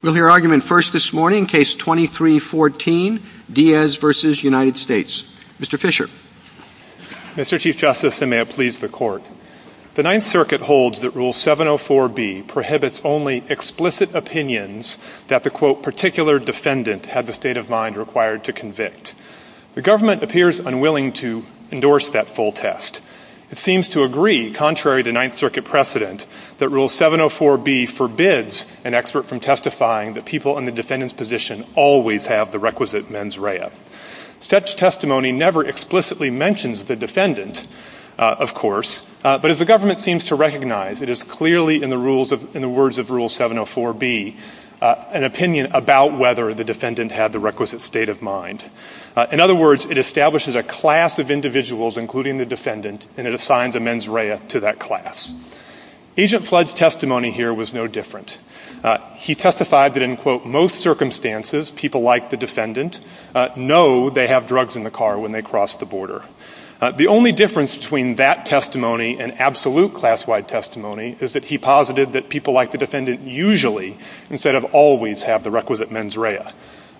Mr. Chief Justice, and may it please the Court, the Ninth Circuit holds that Rule 704B prohibits only explicit opinions that the quote particular defendant had the state of mind required to convict. The government appears unwilling to endorse that full test. It seems to agree, contrary to Ninth Circuit precedent, that Rule 704B forbids an expert from testifying that people in the defendant's position always have the requisite mens rea. Such testimony never explicitly mentions the defendant, of course, but as the government seems to recognize, it is clearly in the words of Rule 704B an opinion about whether the defendant had the requisite state of mind. In other words, it establishes a class of individuals, including the defendant, and it assigns a mens rea to that class. Agent Flood's testimony here was no different. He testified that in quote most circumstances, people like the defendant know they have drugs in the car when they cross the border. The only difference between that testimony and absolute class-wide testimony is that he posited that people like the defendant usually instead of always have the requisite mens rea.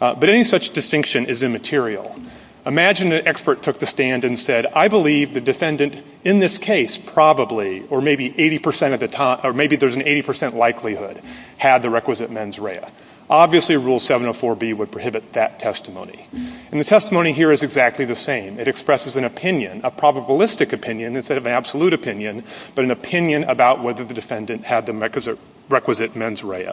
But any such distinction is immaterial. Imagine an expert took the stand and said, I believe the defendant in this case probably or maybe 80% of the time or maybe there's an 80% likelihood had the requisite mens rea. Obviously Rule 704B would prohibit that testimony, and the testimony here is exactly the same. It expresses an opinion, a probabilistic opinion instead of an absolute opinion, but an opinion about whether the defendant had the requisite mens rea.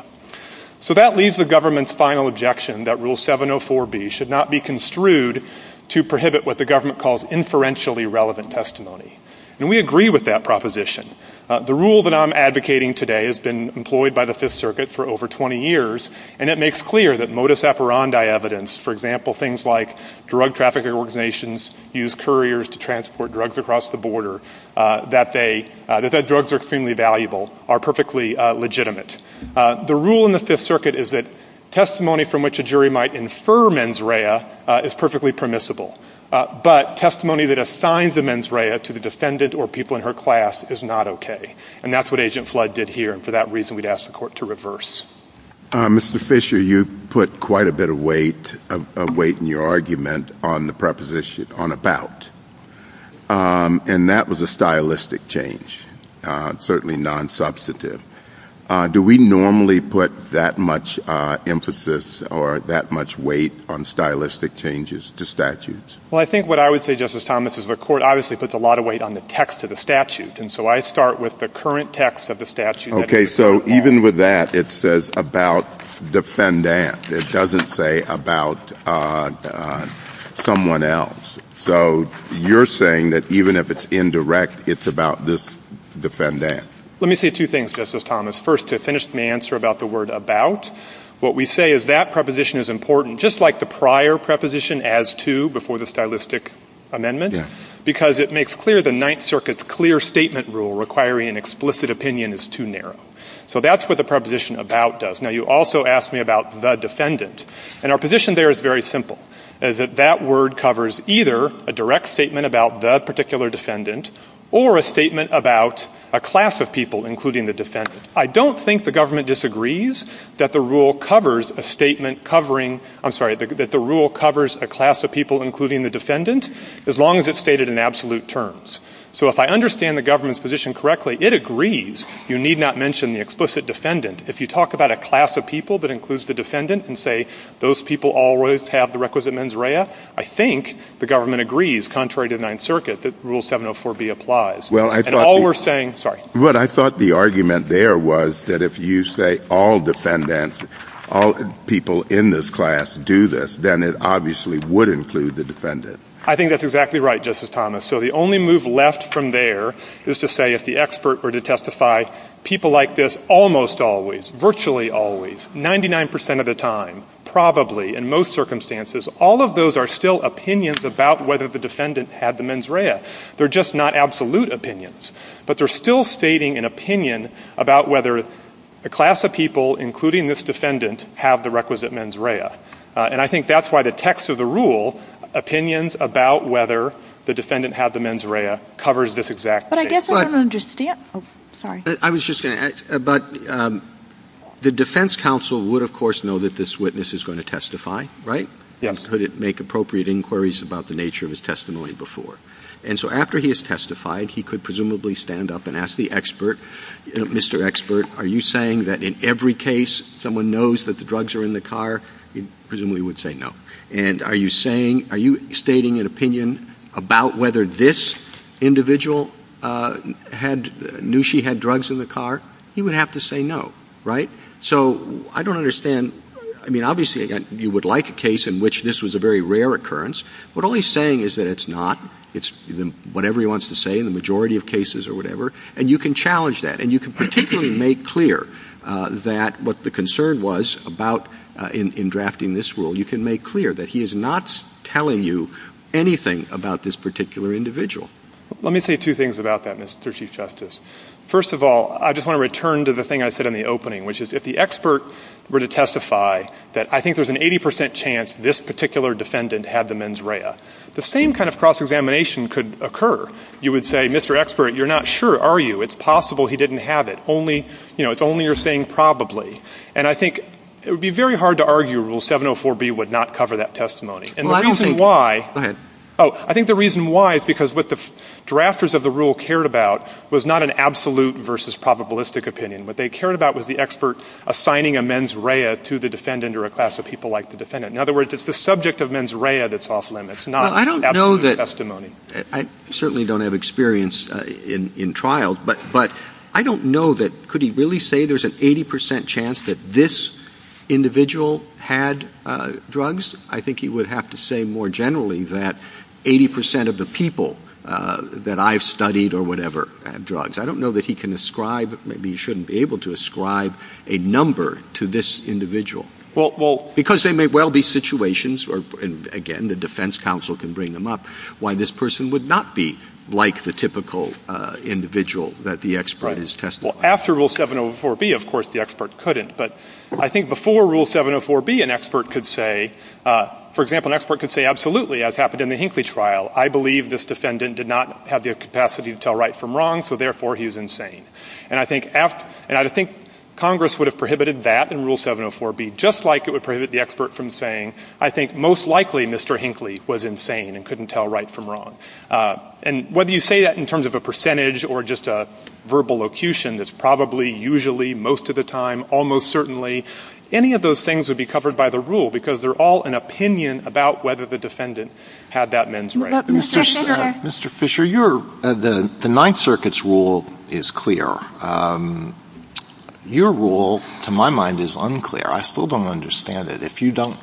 So that leaves the government's final objection that Rule 704B should not be construed to prohibit what the government calls inferentially relevant testimony, and we agree with that objection. The rule that I'm advocating today has been employed by the Fifth Circuit for over 20 years, and it makes clear that modus operandi evidence, for example, things like drug trafficking organizations use couriers to transport drugs across the border, that drugs are extremely valuable, are perfectly legitimate. The rule in the Fifth Circuit is that testimony from which a jury might infer mens rea is perfectly permissible, but testimony that assigns the mens rea to the defendant or people in her class is not okay. And that's what Agent Flood did here, and for that reason we'd ask the Court to reverse. Mr. Fisher, you put quite a bit of weight in your argument on the preposition on about, and that was a stylistic change, certainly non-substantive. Do we normally put that much emphasis or that much weight on stylistic changes to statutes? Well, I think what I would say, Justice Thomas, is the Court obviously puts a lot of weight on the text of the statute, and so I start with the current text of the statute. Okay. So even with that, it says about the defendant. It doesn't say about someone else. So you're saying that even if it's indirect, it's about this defendant. Let me say two things, Justice Thomas. First, to finish the answer about the word about, what we say is that preposition is important, just like the prior preposition, as to, before the stylistic amendment, because it makes clear the Ninth Circuit's clear statement rule requiring an explicit opinion is too narrow. So that's what the preposition about does. Now, you also asked me about the defendant, and our position there is very simple, is that that word covers either a direct statement about the particular defendant or a statement about a class of people, including the defendant. I don't think the government disagrees that the rule covers a statement covering, I'm sorry, that the rule covers a class of people, including the defendant, as long as it's stated in absolute terms. So if I understand the government's position correctly, it agrees. You need not mention the explicit defendant. If you talk about a class of people that includes the defendant and say, those people always have the requisite mens rea, I think the government agrees, contrary to Ninth Circuit, that Rule 704B applies. And all we're saying — Well, I thought — Sorry. But I thought the argument there was that if you say all defendants, all people in this class do this, then it obviously would include the defendant. I think that's exactly right, Justice Thomas. So the only move left from there is to say if the expert were to testify, people like this almost always, virtually always, 99 percent of the time, probably, in most circumstances, all of those are still opinions about whether the defendant had the mens rea. They're just not absolute opinions. But they're still stating an opinion about whether a class of people, including this defendant, have the requisite mens rea. And I think that's why the text of the rule, opinions about whether the defendant had the mens rea, covers this exact — But I guess I don't understand — Oh, sorry. I was just — But the defense counsel would, of course, know that this witness is going to testify, right? Yes. And could it make appropriate inquiries about the nature of his testimony before. And so after he has testified, he could presumably stand up and ask the expert, Mr. Expert, are you saying that in every case someone knows that the drugs are in the car, he presumably would say no. And are you stating an opinion about whether this individual knew she had drugs in the car? He would have to say no, right? So I don't understand — I mean, obviously, again, you would like a case in which this was a very rare occurrence. But all he's saying is that it's not. It's whatever he wants to say in the majority of cases or whatever. And you can challenge that. And you can particularly make clear that what the concern was about — in drafting this rule, you can make clear that he is not telling you anything about this particular individual. Let me say two things about that, Mr. Chief Justice. First of all, I just want to return to the thing I said in the opening, which is if the expert were to testify that I think there's an 80 percent chance this particular defendant had the mens rea, the same kind of cross-examination could occur. You would say, Mr. Expert, you're not sure, are you? It's possible he didn't have it. Only — you know, it's only you're saying probably. And I think it would be very hard to argue Rule 704B would not cover that testimony. And the reason why — Well, I don't think — Go ahead. Oh, I think the reason why is because what the drafters of the rule cared about was not an absolute versus probabilistic opinion. What they cared about was the expert assigning a mens rea to the defendant or a class of people like the defendant. In other words, it's the subject of mens rea that's off limits, not absolute testimony. I certainly don't have experience in trials, but I don't know that — could he really say there's an 80 percent chance that this individual had drugs? I think he would have to say more generally that 80 percent of the people that I've studied or whatever had drugs. I don't know that he can ascribe — maybe he shouldn't be able to ascribe a number to this individual. Well, because they may well be situations — and again, the defense counsel can bring them up — why this person would not be like the typical individual that the expert is testifying. Right. Well, after Rule 704B, of course, the expert couldn't. But I think before Rule 704B, an expert could say — for example, an expert could say, absolutely, as happened in the Hinckley trial, I believe this defendant did not have the capacity to tell right from wrong, so therefore he is insane. And I think after — and I think Congress would have prohibited that in Rule 704B, just like it would prohibit the expert from saying, I think most likely Mr. Hinckley was insane and couldn't tell right from wrong. And whether you say that in terms of a percentage or just a verbal locution, that's probably, usually, most of the time, almost certainly, any of those things would be covered by the rule because they're all an opinion about whether the defendant had that men's right. Mr. Fisher, your — the Ninth Circuit's rule is clear. Your rule, to my mind, is unclear. I still don't understand it. If you don't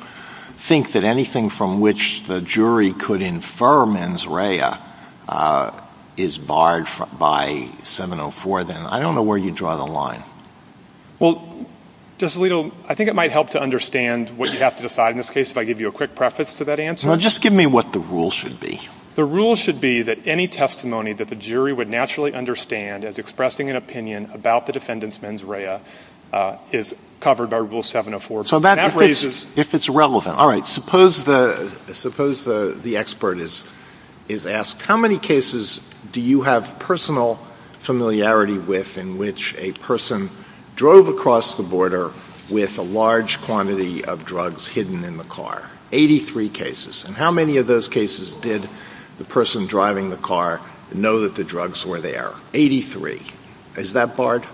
think that anything from which the jury could infer mens rea is barred by 704, then I don't know where you draw the line. Well, Justice Alito, I think it might help to understand what you have to decide in this case if I give you a quick preface to that answer. Well, just give me what the rule should be. The rule should be that any testimony that the jury would naturally understand as expressing an opinion about the defendant's mens rea is covered by Rule 704B. So if it's relevant — all right, suppose the expert is asked, how many cases do you have personal familiarity with in which a person drove across the border with a large quantity of drugs hidden in the car? Eighty-three cases. And how many of those cases did the person driving the car know that the drugs were there? Eighty-three. Is that barred?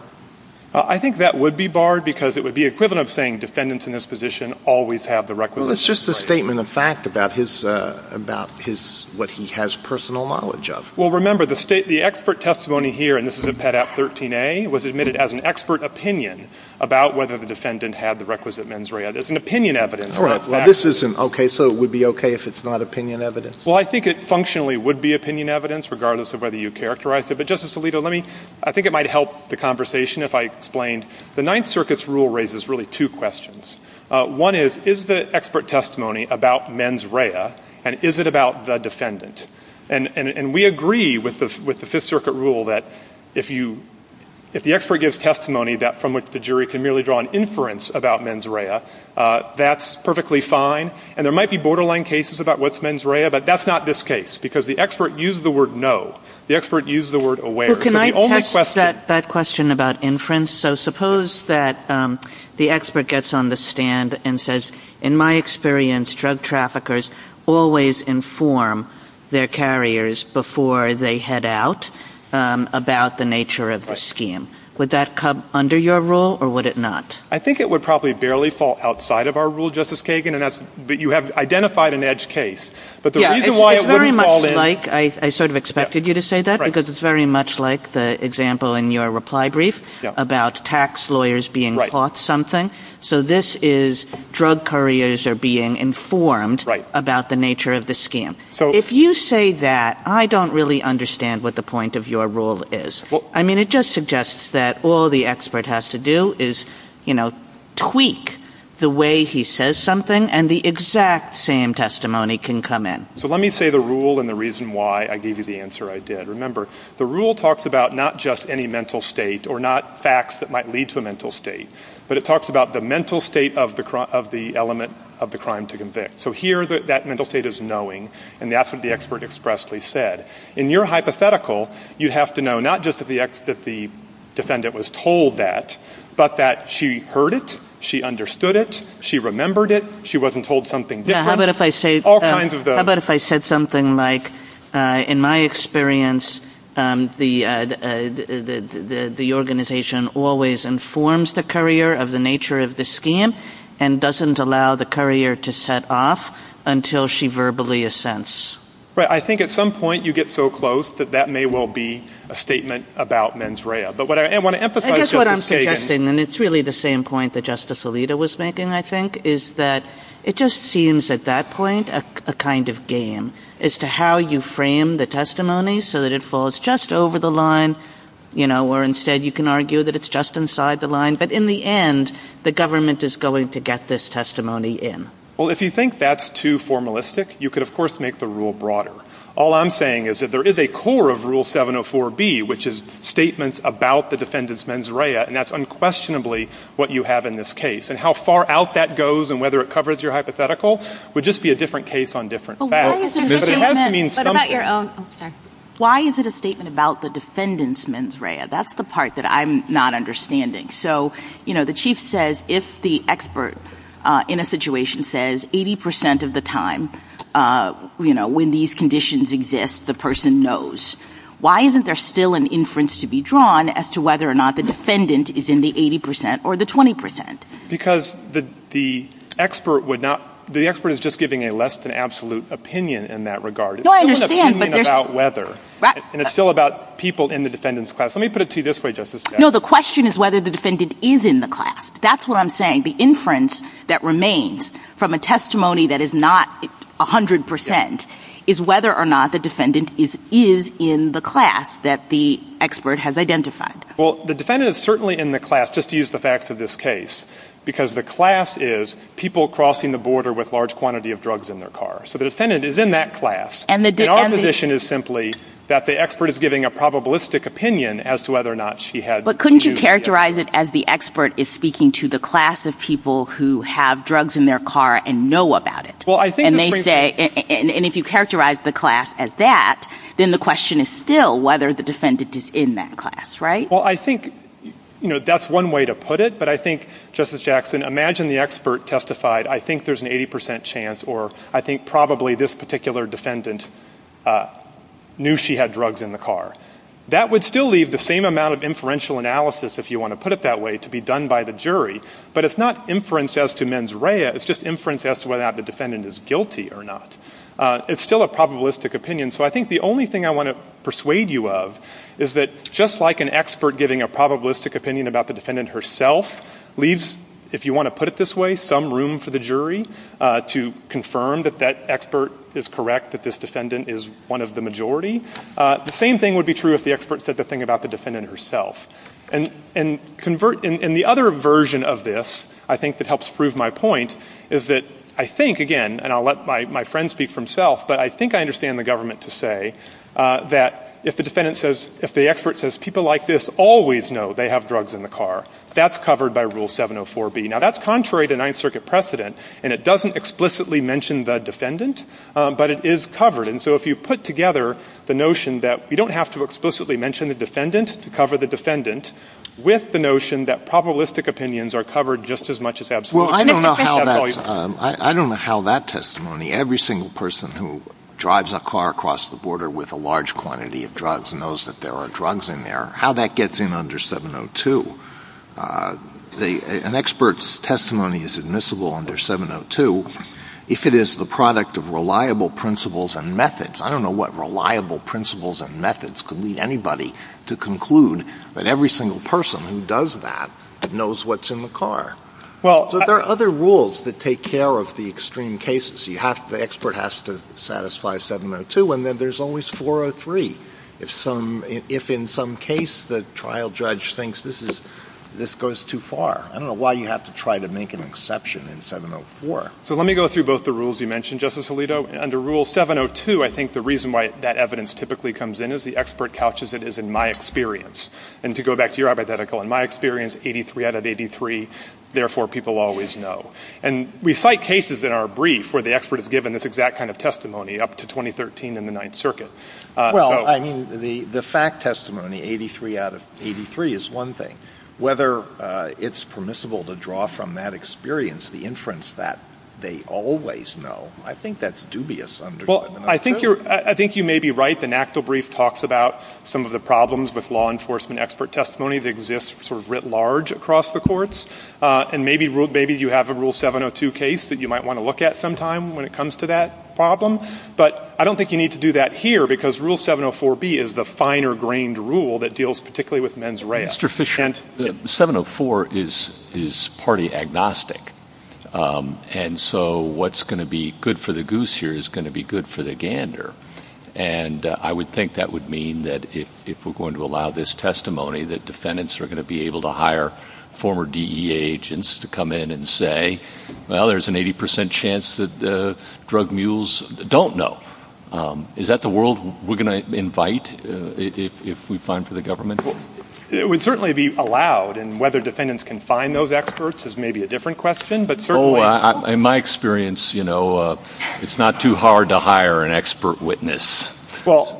I think that would be barred because it would be equivalent of saying defendants in this position always have the requisite — Well, it's just a statement of fact about his — about his — what he has personal knowledge of. Well, remember, the state — the expert testimony here — and this is in Pet. 13a — was admitted as an expert opinion about whether the defendant had the requisite mens rea. It's an opinion evidence, not fact. All right. Well, this is an — okay, so it would be okay if it's not opinion evidence? Well, I think it functionally would be opinion evidence, regardless of whether you characterize it. But, Justice Alito, let me — I think it might help the conversation if I explained the Ninth Circuit's rule raises really two questions. One is, is the expert testimony about mens rea, and is it about the defendant? And we agree with the Fifth Circuit rule that if you — if the expert gives testimony from which the jury can merely draw an inference about mens rea, that's perfectly fine. And there might be borderline cases about what's mens rea, but that's not this case because the expert used the word no. The expert used the word aware. So the only question — Well, can I touch that question about inference? So suppose that the expert gets on the stand and says, in my experience, drug traffickers always inform their carriers before they head out about the nature of the scheme. Would that come under your rule, or would it not? I think it would probably barely fall outside of our rule, Justice Kagan, and that's — but you have identified an edge case. But the reason why it wouldn't fall in — Well, Mike, I sort of expected you to say that because it's very much like the example in your reply brief about tax lawyers being caught something. So this is drug couriers are being informed about the nature of the scheme. If you say that, I don't really understand what the point of your rule is. I mean, it just suggests that all the expert has to do is, you know, tweak the way he says something and the exact same testimony can come in. So let me say the rule and the reason why I gave you the answer I did. Remember, the rule talks about not just any mental state or not facts that might lead to a mental state, but it talks about the mental state of the element of the crime to convict. So here, that mental state is knowing, and that's what the expert expressly said. In your hypothetical, you have to know not just that the defendant was told that, but that she heard it, she understood it, she remembered it, she wasn't told something different. Yeah, how about if I say — All kinds of those. How about if I said something like, in my experience, the organization always informs the courier of the nature of the scheme and doesn't allow the courier to set off until she verbally assents. Right. I think at some point you get so close that that may well be a statement about mens rea. But what I want to emphasize — I guess what I'm suggesting, and it's really the same point that Justice Alito was making, I think, is that it just seems at that point a kind of game as to how you frame the testimony so that it falls just over the line, you know, where instead you can argue that it's just inside the line. But in the end, the government is going to get this testimony in. Well, if you think that's too formalistic, you could, of course, make the rule broader. All I'm saying is that there is a core of Rule 704B, which is statements about the defendant's mens rea, and that's unquestionably what you have in this case. And how far out that goes and whether it covers your hypothetical would just be a different case on different facts. But why is it a statement — But it has to mean something. But about your own — Oh, sorry. Why is it a statement about the defendant's mens rea? That's the part that I'm not understanding. So, you know, the chief says if the expert in a situation says 80 percent of the time, you know, when these conditions exist, the person knows, why isn't there still an inference to be drawn as to whether or not the defendant is in the 80 percent or the 20 percent? Because the expert would not — the expert is just giving a less-than-absolute opinion in that regard. No, I understand, but there's — It's still an opinion about whether. Right. And it's still about people in the defendant's class. Let me put it to you this way, Justice Gabbard. No, the question is whether the defendant is in the class. That's what I'm saying. The inference that remains from a testimony that is not 100 percent is whether or not the defendant is in the class that the expert has identified. Well, the defendant is certainly in the class, just to use the facts of this case, because the class is people crossing the border with large quantity of drugs in their car. So the defendant is in that class. And the definition is simply that the expert is giving a probabilistic opinion as to whether or not she had — But couldn't you characterize it as the expert is speaking to the class of people who have drugs in their car and know about it? Well, I think — And they say — and if you characterize the class as that, then the question is still whether the defendant is in that class, right? Well, I think, you know, that's one way to put it. But I think, Justice Jackson, imagine the expert testified, I think there's an 80 percent chance or I think probably this particular defendant knew she had drugs in the car. That would still leave the same amount of inferential analysis, if you want to put it that way, to be done by the jury. But it's not inference as to mens rea. It's just inference as to whether or not the defendant is guilty or not. It's still a probabilistic opinion. And so I think the only thing I want to persuade you of is that just like an expert giving a probabilistic opinion about the defendant herself leaves, if you want to put it this way, some room for the jury to confirm that that expert is correct, that this defendant is one of the majority, the same thing would be true if the expert said the thing about the defendant herself. And convert — and the other version of this, I think, that helps prove my point is that I think, again — and I'll let my friend speak for himself — but I think I understand the government to say that if the defendant says — if the expert says people like this always know they have drugs in the car, that's covered by Rule 704B. Now, that's contrary to Ninth Circuit precedent, and it doesn't explicitly mention the defendant, but it is covered. And so if you put together the notion that you don't have to explicitly mention the defendant to cover the defendant with the notion that probabilistic opinions are covered just as much as — Well, I don't know how that testimony — every single person who drives a car across the border with a large quantity of drugs knows that there are drugs in there. How that gets in under 702, an expert's testimony is admissible under 702 if it is the product of reliable principles and methods. I don't know what reliable principles and methods could lead anybody to conclude that every single person who does that knows what's in the car. So there are other rules that take care of the extreme cases. You have — the expert has to satisfy 702, and then there's always 403 if some — if in some case the trial judge thinks this is — this goes too far. I don't know why you have to try to make an exception in 704. So let me go through both the rules you mentioned, Justice Alito. Under Rule 702, I think the reason why that evidence typically comes in is the expert couches it as in my experience. And to go back to your hypothetical, in my experience, 83 out of 83, therefore people always know. And we cite cases in our brief where the expert is given this exact kind of testimony up to 2013 in the Ninth Circuit. Well, I mean, the fact testimony, 83 out of 83, is one thing. Whether it's permissible to draw from that experience the inference that they always know, I think that's dubious under — Well, I think you're — I think you may be right. The NACDA brief talks about some of the problems with law enforcement expert testimony that exists sort of writ large across the courts. And maybe you have a Rule 702 case that you might want to look at sometime when it comes to that problem. But I don't think you need to do that here, because Rule 704B is the finer-grained rule that deals particularly with men's rights. Yes, sufficient. 704 is party agnostic. And so what's going to be good for the goose here is going to be good for the gander. And I would think that would mean that if we're going to allow this testimony, that defendants are going to be able to hire former DEA agents to come in and say, well, there's an 80 percent chance that drug mules don't know. Is that the world we're going to invite if we find for the government? It would certainly be allowed, and whether defendants can find those experts is maybe a different question, but certainly — In my experience, you know, it's not too hard to hire an expert witness.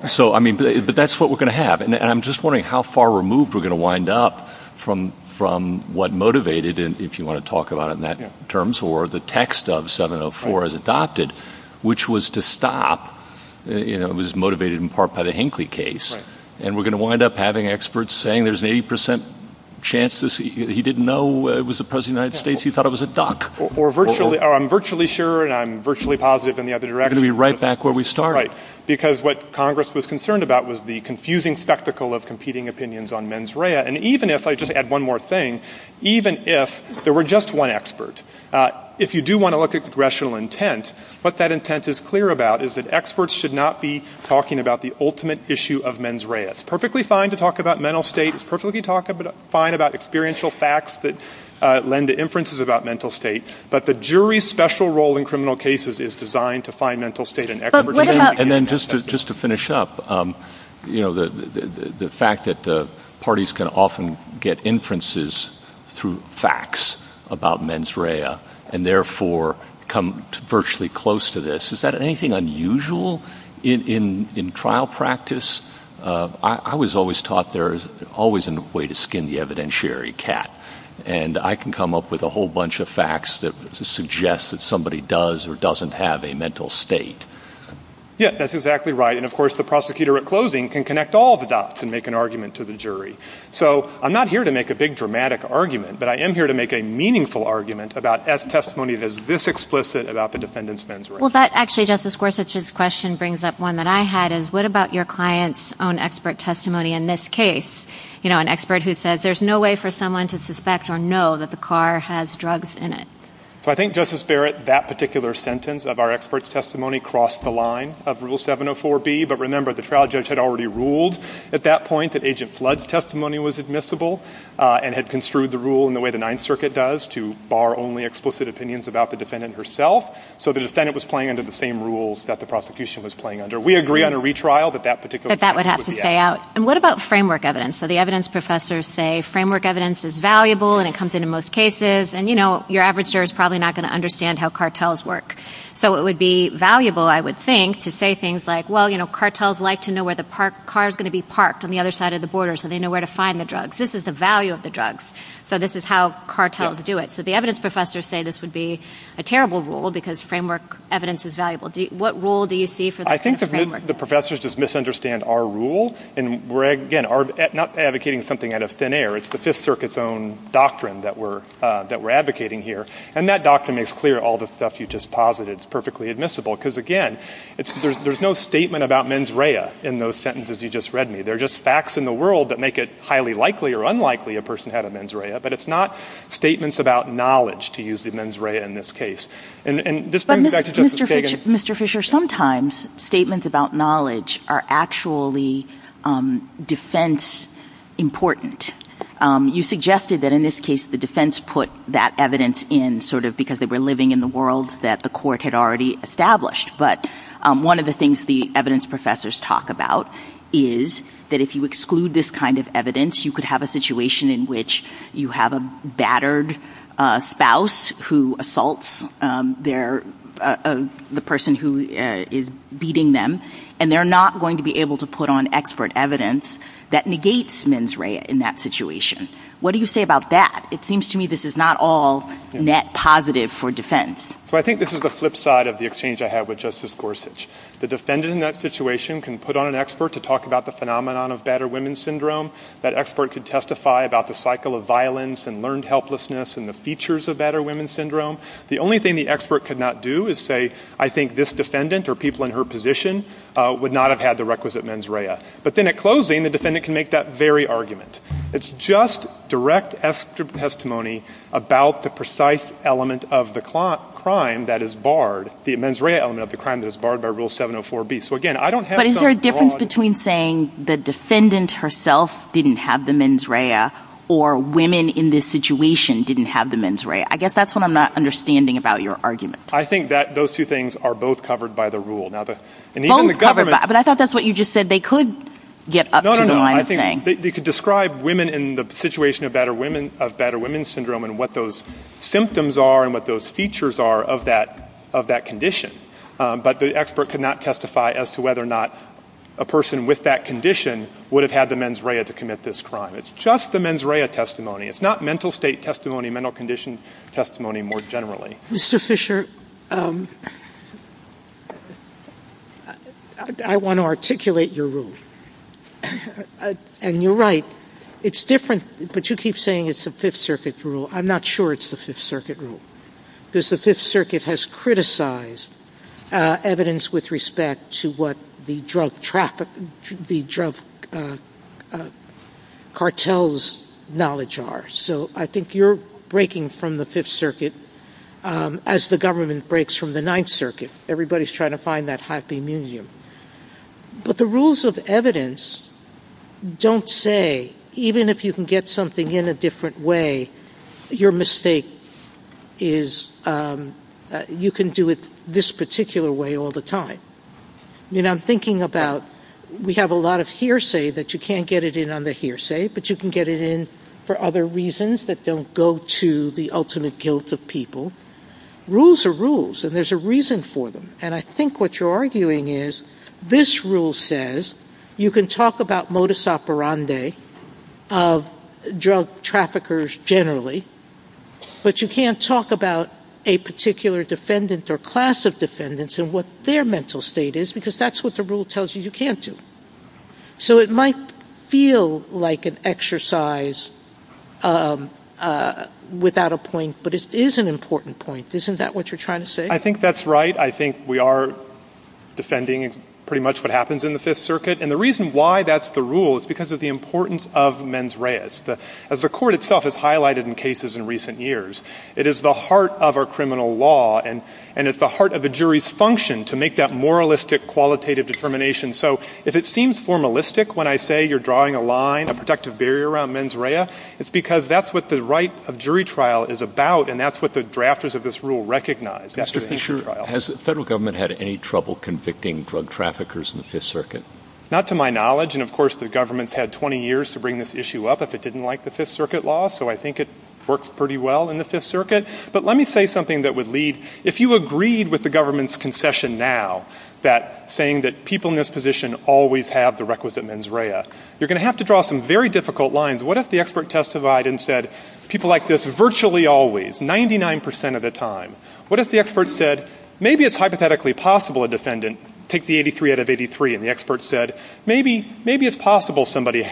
So I mean, but that's what we're going to have. And I'm just wondering how far removed we're going to wind up from what motivated, if you want to talk about it in that terms, or the text of 704 as adopted, which was to stop — you know, it was motivated in part by the Hinckley case. And we're going to wind up having experts saying there's an 80 percent chance he didn't know it was opposed to the United States, he thought it was a duck. Or virtually — I'm virtually sure, and I'm virtually positive in the other direction. We're going to be right back where we started. Right. Because what Congress was concerned about was the confusing spectacle of competing opinions on mens rea. And even if — I'll just add one more thing — even if there were just one expert, if you do want to look at congressional intent, what that intent is clear about is that experts should not be talking about the ultimate issue of mens rea. It's perfectly fine to talk about mental states, it's perfectly fine to talk about experiential facts that lend to inferences about mental state, but the jury's special role in criminal cases is designed to find mental state in experts. But what about — And then just to finish up, you know, the fact that the parties can often get inferences through facts about mens rea, and therefore come virtually close to this, is that anything unusual in trial practice? I was always taught there's always a way to skin the evidentiary cat, and I can come up with a whole bunch of facts that suggest that somebody does or doesn't have a mental state. Yeah. That's exactly right. And of course, the prosecutor at closing can connect all the dots and make an argument to the jury. So I'm not here to make a big, dramatic argument, but I am here to make a meaningful argument about, as testimony that is this explicit about the defendant's mens rea. Well, that actually, Justice Gorsuch's question brings up one that I had, is what about your client's own expert testimony in this case, you know, an expert who says, there's no way for someone to suspect or know that the car has drugs in it? So I think, Justice Barrett, that particular sentence of our expert's testimony crossed the line of Rule 704B. But remember, the trial judge had already ruled at that point that Agent Flood's testimony was admissible, and had construed the rule in the way the Ninth Circuit does, to bar only explicit opinions about the defendant herself. So the defendant was playing under the same rules that the prosecution was playing under. We agree on a retrial, but that particular sentence would be added. But that would have to stay out. And what about framework evidence? So the evidence professors say framework evidence is valuable, and it comes in in most cases, and you know, your average juror's probably not going to understand how cartels work. So it would be valuable, I would think, to say things like, well, you know, cartels like to know where the car's going to be parked on the other side of the border, so they know where to find the drugs. This is the value of the drugs, so this is how cartels do it. So the evidence professors say this would be a terrible rule, because framework evidence is valuable. What rule do you see for this? I think the professors just misunderstand our rule, and we're, again, not advocating something out of thin air. It's the Fifth Circuit's own doctrine that we're advocating here. And that doctrine makes clear all the stuff you just posited is perfectly admissible, because again, there's no statement about mens rea in those sentences you just read me. They're just facts in the world that make it highly likely or unlikely a person had a mens rea, but it's not statements about knowledge to use the mens rea in this case. And this brings me back to Dr. Fagin's... Mr. Fisher, sometimes statements about knowledge are actually defense important. You suggested that in this case the defense put that evidence in sort of because they were living in the world that the court had already established, but one of the things the evidence professors talk about is that if you exclude this kind of evidence, you could have a situation in which you have a battered spouse who assaults the person who is beating them, and they're not going to be able to put on expert evidence that negates mens rea in that situation. What do you say about that? It seems to me this is not all net positive for defense. So I think this is the flip side of the exchange I have with Justice Gorsuch. The defendant in that situation can put on an expert to talk about the phenomenon of expert could testify about the cycle of violence and learned helplessness and the features of battered women syndrome. The only thing the expert could not do is say, I think this defendant or people in her position would not have had the requisite mens rea. But then at closing, the defendant can make that very argument. It's just direct testimony about the precise element of the crime that is barred, the mens rea element of the crime that is barred by Rule 704B. So again, I don't have... So there's a difference between saying the defendant herself didn't have the mens rea or women in this situation didn't have the mens rea. I guess that's what I'm not understanding about your argument. I think that those two things are both covered by the rule. Now the... Both covered by... But I thought that's what you just said. They could get up to... No, no, no. I think they could describe women in the situation of battered women syndrome and what those symptoms are and what those features are of that condition. But the expert could not testify as to whether or not a person with that condition would have had the mens rea to commit this crime. It's just the mens rea testimony. It's not mental state testimony, mental condition testimony more generally. Mr. Fisher, I want to articulate your rule. And you're right. It's different, but you keep saying it's the Fifth Circuit rule. I'm not sure it's the Fifth Circuit rule. The Fifth Circuit has criticized evidence with respect to what the drug cartels' knowledge are. So I think you're breaking from the Fifth Circuit as the government breaks from the Ninth Circuit. Everybody's trying to find that happy new year. But the rules of evidence don't say, even if you can get something in a different way, your mistake is you can do it this particular way all the time. You know, I'm thinking about we have a lot of hearsay that you can't get it in on the hearsay, but you can get it in for other reasons that don't go to the ultimate guilt of people. Rules are rules, and there's a reason for them. And I think what you're arguing is this rule says you can talk about modus operandi of drug traffickers generally, but you can't talk about a particular defendant or class of defendants and what their mental state is, because that's what the rule tells you you can't do. So it might feel like an exercise without a point, but it is an important point. Isn't that what you're trying to say? I think that's right. I think we are defending pretty much what happens in the Fifth Circuit. And the reason why that's the rule is because of the importance of mens reas. As the court itself has highlighted in cases in recent years, it is the heart of our criminal law and it's the heart of the jury's function to make that moralistic, qualitative determination. So if it seems formalistic when I say you're drawing a line, a protective barrier around mens rea, it's because that's what the right of jury trial is about, and that's what the drafters of this rule recognize. Has the federal government had any trouble convicting drug traffickers in the Fifth Circuit? Not to my knowledge. And of course, the government had 20 years to bring this issue up if it didn't like the Fifth Circuit law. So I think it works pretty well in the Fifth Circuit. But let me say something that would lead. If you agreed with the government's concession now, that saying that people in this position always have the requisite mens rea, you're going to have to draw some very difficult lines. What if the expert testified and said people like this virtually always, 99% of the time? What if the expert said, maybe it's hypothetically possible a defendant, take the 83 out of 83, and the expert said, maybe it's possible somebody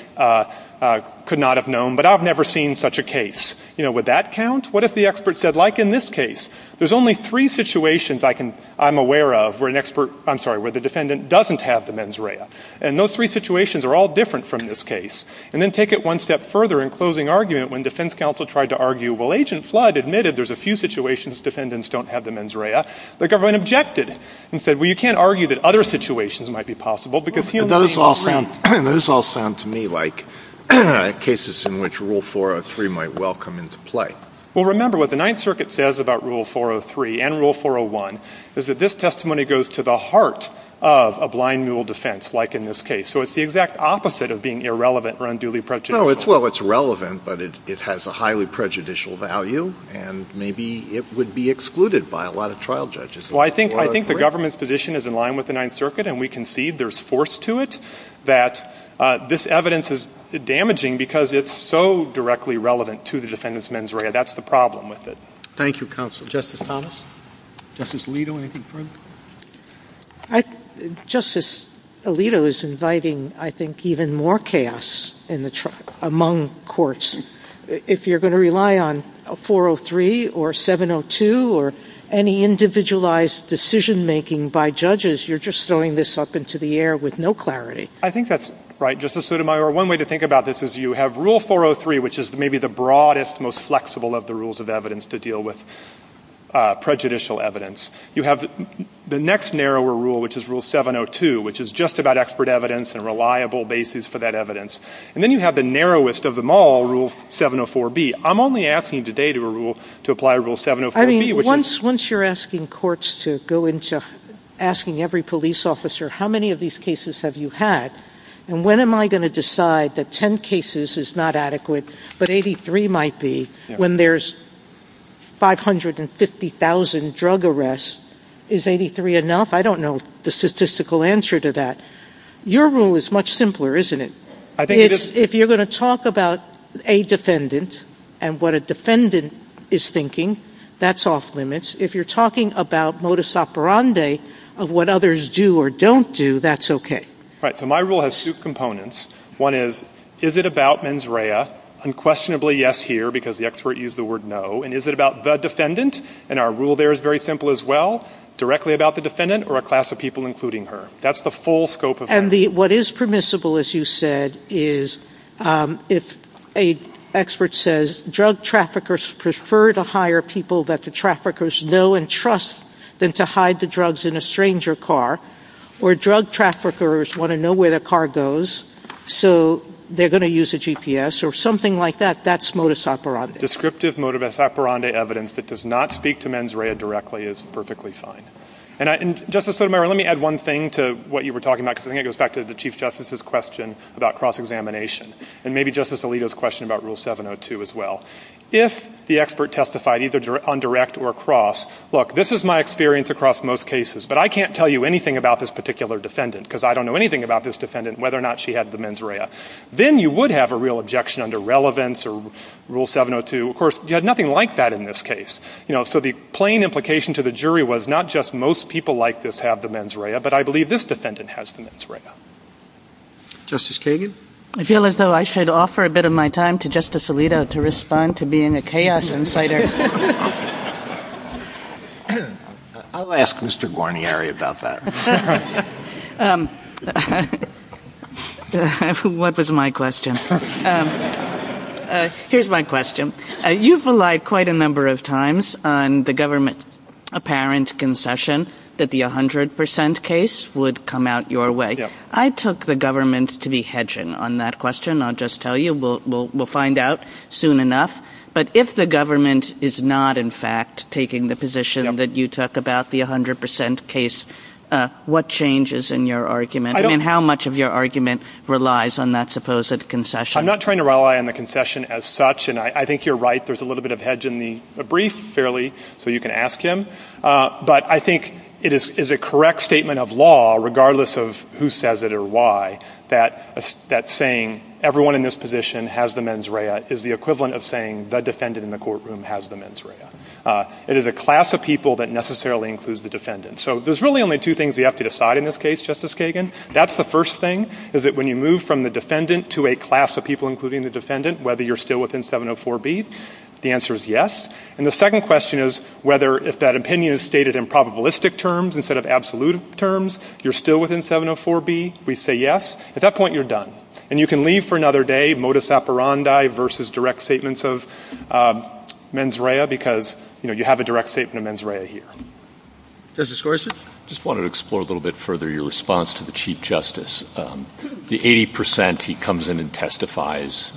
could not have known, but I've never seen such a case. Would that count? What if the expert said, like in this case, there's only three situations I'm aware of where an expert, I'm sorry, where the defendant doesn't have the mens rea. And those three situations are all different from this case. And then take it one step further in closing argument when defense counsel tried to argue, well, Agent Flood admitted there's a few situations defendants don't have the mens rea. The government objected and said, well, you can't argue that other situations might be possible because here's the thing. Those all sound to me like cases in which Rule 403 might well come into play. Well, remember what the Ninth Circuit says about Rule 403 and Rule 401 is that this testimony goes to the heart of a blind mule defense, like in this case. So it's the exact opposite of being irrelevant or unduly prejudicial. No. Well, it's relevant, but it has a highly prejudicial value, and maybe it would be excluded by a lot of trial judges. Well, I think the government's position is in line with the Ninth Circuit, and we concede there's force to it, that this evidence is damaging because it's so directly relevant to the defendant's mens rea. That's the problem with it. Thank you, counsel. Justice Thomas? Justice Alito, anything further? Justice Alito is inviting, I think, even more chaos in the among courts. If you're going to rely on 403 or 702 or any individualized decision-making by judges, you're just throwing this up into the air with no clarity. I think that's right, Justice Sotomayor. One way to think about this is you have Rule 403, which is maybe the broadest, most flexible of the rules of evidence to deal with prejudicial evidence. You have the next narrower rule, which is Rule 702, which is just about expert evidence and a reliable basis for that evidence. And then you have the narrowest of them all, Rule 704B. I'm only asking today to apply Rule 704B, which is... Once you're asking courts to go into asking every police officer, how many of these cases have you had, and when am I going to decide that 10 cases is not adequate, but 83 might be. When there's 550,000 drug arrests, is 83 enough? I don't know the statistical answer to that. Your rule is much simpler, isn't it? If you're going to talk about a defendant and what a defendant is thinking, that's off limits. If you're talking about modus operandi of what others do or don't do, that's okay. Right. So my rule has two components. One is, is it about mens rea? Unquestionably, yes here, because the expert used the word no. And is it about the defendant? And our rule there is very simple as well, directly about the defendant or a class of people including her. That's the full scope of it. And what is permissible, as you said, is if an expert says, drug traffickers prefer to hire people that the traffickers know and trust than to hide the drugs in a stranger car, or drug traffickers want to know where their car goes, so they're going to use a or something like that, that's modus operandi. Descriptive modus operandi evidence that does not speak to mens rea directly is perfectly fine. And Justice Sotomayor, let me add one thing to what you were talking about, because I think it goes back to the Chief Justice's question about cross-examination, and maybe Justice Alito's question about Rule 702 as well. If the expert testified either on direct or cross, look, this is my experience across most cases, but I can't tell you anything about this particular defendant, because I don't know anything about this defendant, whether or not she had the mens rea. Then you would have a real objection under relevance or Rule 702. Of course, you had nothing like that in this case. So the plain implication to the jury was not just most people like this have the mens rea, but I believe this defendant has the mens rea. Justice Kagan? I feel as though I should offer a bit of my time to Justice Alito to respond to being a chaos insider. I'll ask Mr. Guarnieri about that. What was my question? Here's my question. You've relied quite a number of times on the government's apparent concession that the 100 percent case would come out your way. I took the government to be hedging on that question, I'll just tell you. We'll find out soon enough. But if the government is not, in fact, taking the position that you took about the 100 percent case, what changes in your argument? How much of your argument relies on that supposed concession? I'm not trying to rely on the concession as such, and I think you're right. There's a little bit of hedge in the brief, fairly, so you can ask him. But I think it is a correct statement of law, regardless of who says it or why, that saying everyone in this position has the mens rea is the equivalent of saying the defendant in the courtroom has the mens rea. It is a class of people that necessarily includes the defendant. So there's really only two things you have to decide in this case, Justice Kagan. That's the first thing, is that when you move from the defendant to a class of people including the defendant, whether you're still within 704B, the answer is yes. And the second question is whether, if that opinion is stated in probabilistic terms instead of absolute terms, you're still within 704B, we say yes, at that point you're done. And you can leave for another day modus operandi versus direct statements of mens rea, because you have a direct statement of mens rea here. Justice Gorsuch? I just wanted to explore a little bit further your response to the Chief Justice. The 80% he comes in and testifies,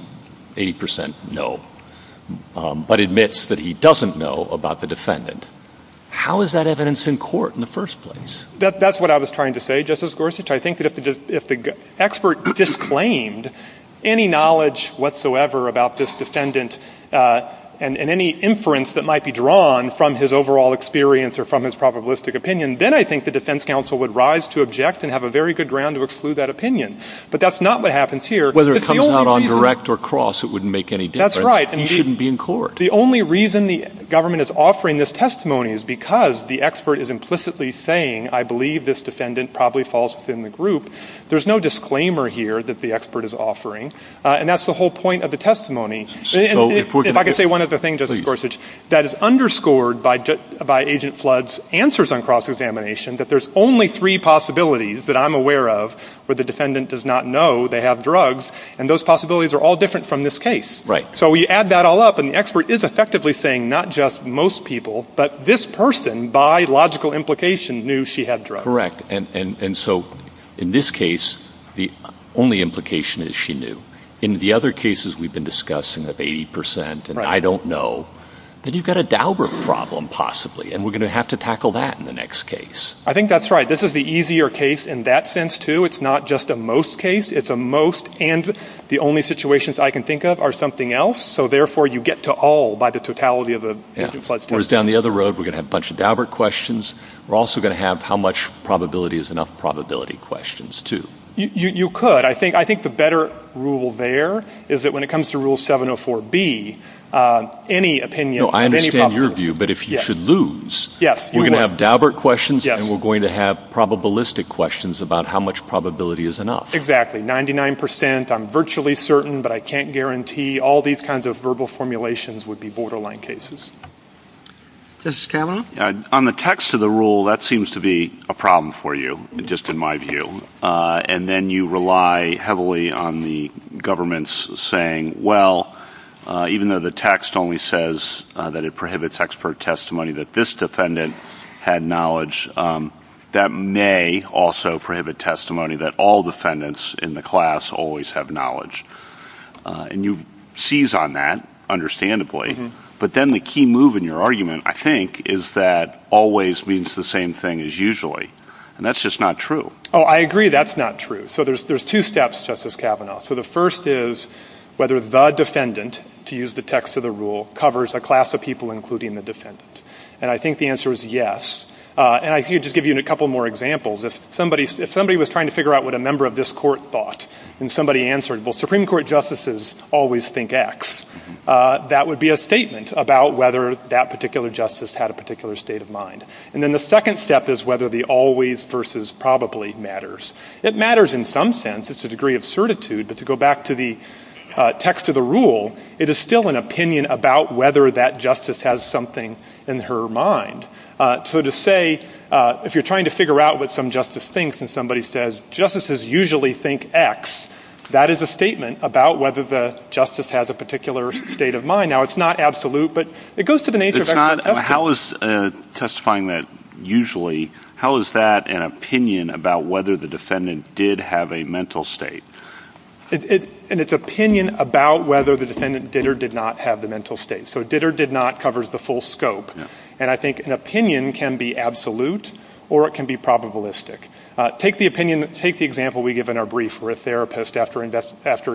80% no, but admits that he doesn't know about the defendant. How is that evidence in court in the first place? That's what I was trying to say, Justice Gorsuch. I think that if the expert disclaimed any knowledge whatsoever about this defendant and any inference that might be drawn from his overall experience or from his probabilistic opinion, then I think the defense counsel would rise to object and have a very good ground to exclude that opinion. But that's not what happens here. Whether it comes out on direct or cross, it wouldn't make any difference. That's right. He shouldn't be in court. The only reason the government is offering this testimony is because the expert is implicitly saying, I believe this defendant probably falls within the group. There's no disclaimer here that the expert is offering, and that's the whole point of the testimony. If I could say one other thing, Justice Gorsuch, that is underscored by Agent Flood's answers on cross-examination, that there's only three possibilities that I'm aware of where the defendant does not know they have drugs, and those possibilities are all different from this case. Right. So we add that all up, and the expert is effectively saying not just most people, but this person by logical implication knew she had drugs. Correct. And so in this case, the only implication is she knew. In the other cases we've been discussing of 80 percent, and I don't know, then you've got a Daubert problem possibly, and we're going to have to tackle that in the next case. I think that's right. This is the easier case in that sense, too. It's not just a most case. It's a most, and the only situations I can think of are something else. It goes down the other road. We're going to have a bunch of Daubert questions. We're also going to have how much probability is enough probability questions, too. You could. I think the better rule there is that when it comes to Rule 704B, any opinion, any problem No, I understand your view, but if you should lose, we're going to have Daubert questions, and we're going to have probabilistic questions about how much probability is enough. Exactly. Ninety-nine percent, I'm virtually certain, but I can't guarantee all these kinds of verbal formulations would be borderline cases. Mr. Scanlon? On the text of the rule, that seems to be a problem for you, just in my view, and then you rely heavily on the government's saying, well, even though the text only says that it prohibits expert testimony, that this defendant had knowledge, that may also prohibit testimony that all defendants in the class always have knowledge, and you seize on that. Understandably, but then the key move in your argument, I think, is that always means the same thing as usually, and that's just not true. Oh, I agree that's not true. So there's two steps, Justice Kavanaugh. So the first is whether the defendant, to use the text of the rule, covers a class of people including the defendant, and I think the answer is yes, and I can just give you a couple more examples. If somebody was trying to figure out what a member of this court thought, and somebody answered, well, Supreme Court justices always think X, that would be a statement about whether that particular justice had a particular state of mind, and then the second step is whether the always versus probably matters. It matters in some sense. It's a degree of certitude, but to go back to the text of the rule, it is still an opinion about whether that justice has something in her mind, so to say, if you're trying to figure out what some justice thinks, and somebody says justices usually think X, that is a statement about whether the justice has a particular state of mind. Now, it's not absolute, but it goes to the nature of... How is testifying that usually, how is that an opinion about whether the defendant did have a mental state? And it's opinion about whether the defendant did or did not have the mental state, so did or did not covers the full scope, and I think an opinion can be absolute or it can be probabilistic. Take the opinion, take the example we give in our brief where a therapist after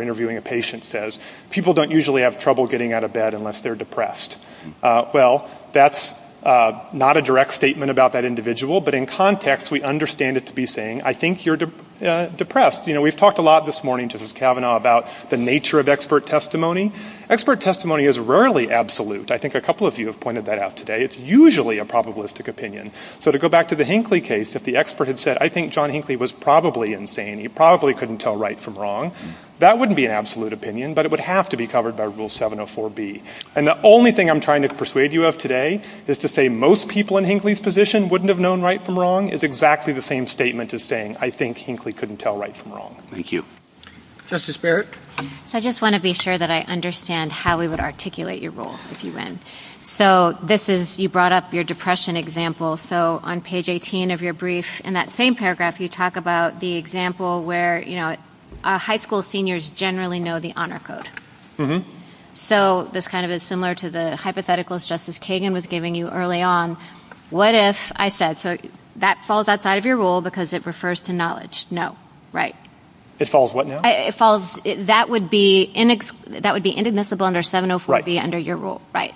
interviewing a patient says, people don't usually have trouble getting out of bed unless they're depressed. Well, that's not a direct statement about that individual, but in context, we understand it to be saying, I think you're depressed. We've talked a lot this morning, Justice Kavanaugh, about the nature of expert testimony. Expert testimony is rarely absolute. I think a couple of you have pointed that out today. It's usually a probabilistic opinion. So to go back to the Hinckley case, if the expert had said, I think John Hinckley was probably insane, he probably couldn't tell right from wrong, that wouldn't be an absolute opinion, but it would have to be covered by Rule 704B. And the only thing I'm trying to persuade you of today is to say most people in Hinckley's position wouldn't have known right from wrong is exactly the same statement as saying, I think Hinckley couldn't tell right from wrong. Thank you. Justice Barrett? I just want to be sure that I understand how we would articulate your rule if you win. So this is, you brought up your depression example. So on page 18 of your brief, in that same paragraph, you talk about the example where, you know, high school seniors generally know the honor code. So this kind of is similar to the hypotheticals Justice Kagan was giving you early on. What if I said, so that falls outside of your rule because it refers to knowledge. No. Right. It falls what now? It falls, that would be inadmissible under 704B under your rule. Right.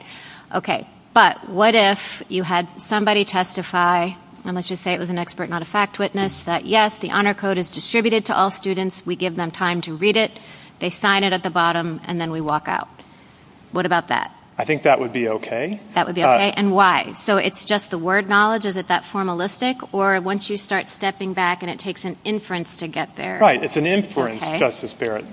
Okay. But what if you had somebody testify, and let's just say it was an expert, not a fact witness, that yes, the honor code is distributed to all students. We give them time to read it. They sign it at the bottom and then we walk out. What about that? I think that would be okay. That would be okay. And why? So it's just the word knowledge? Is it that formalistic? Or once you start stepping back and it takes an inference to get there? Right. It's an inference, Justice Barrett.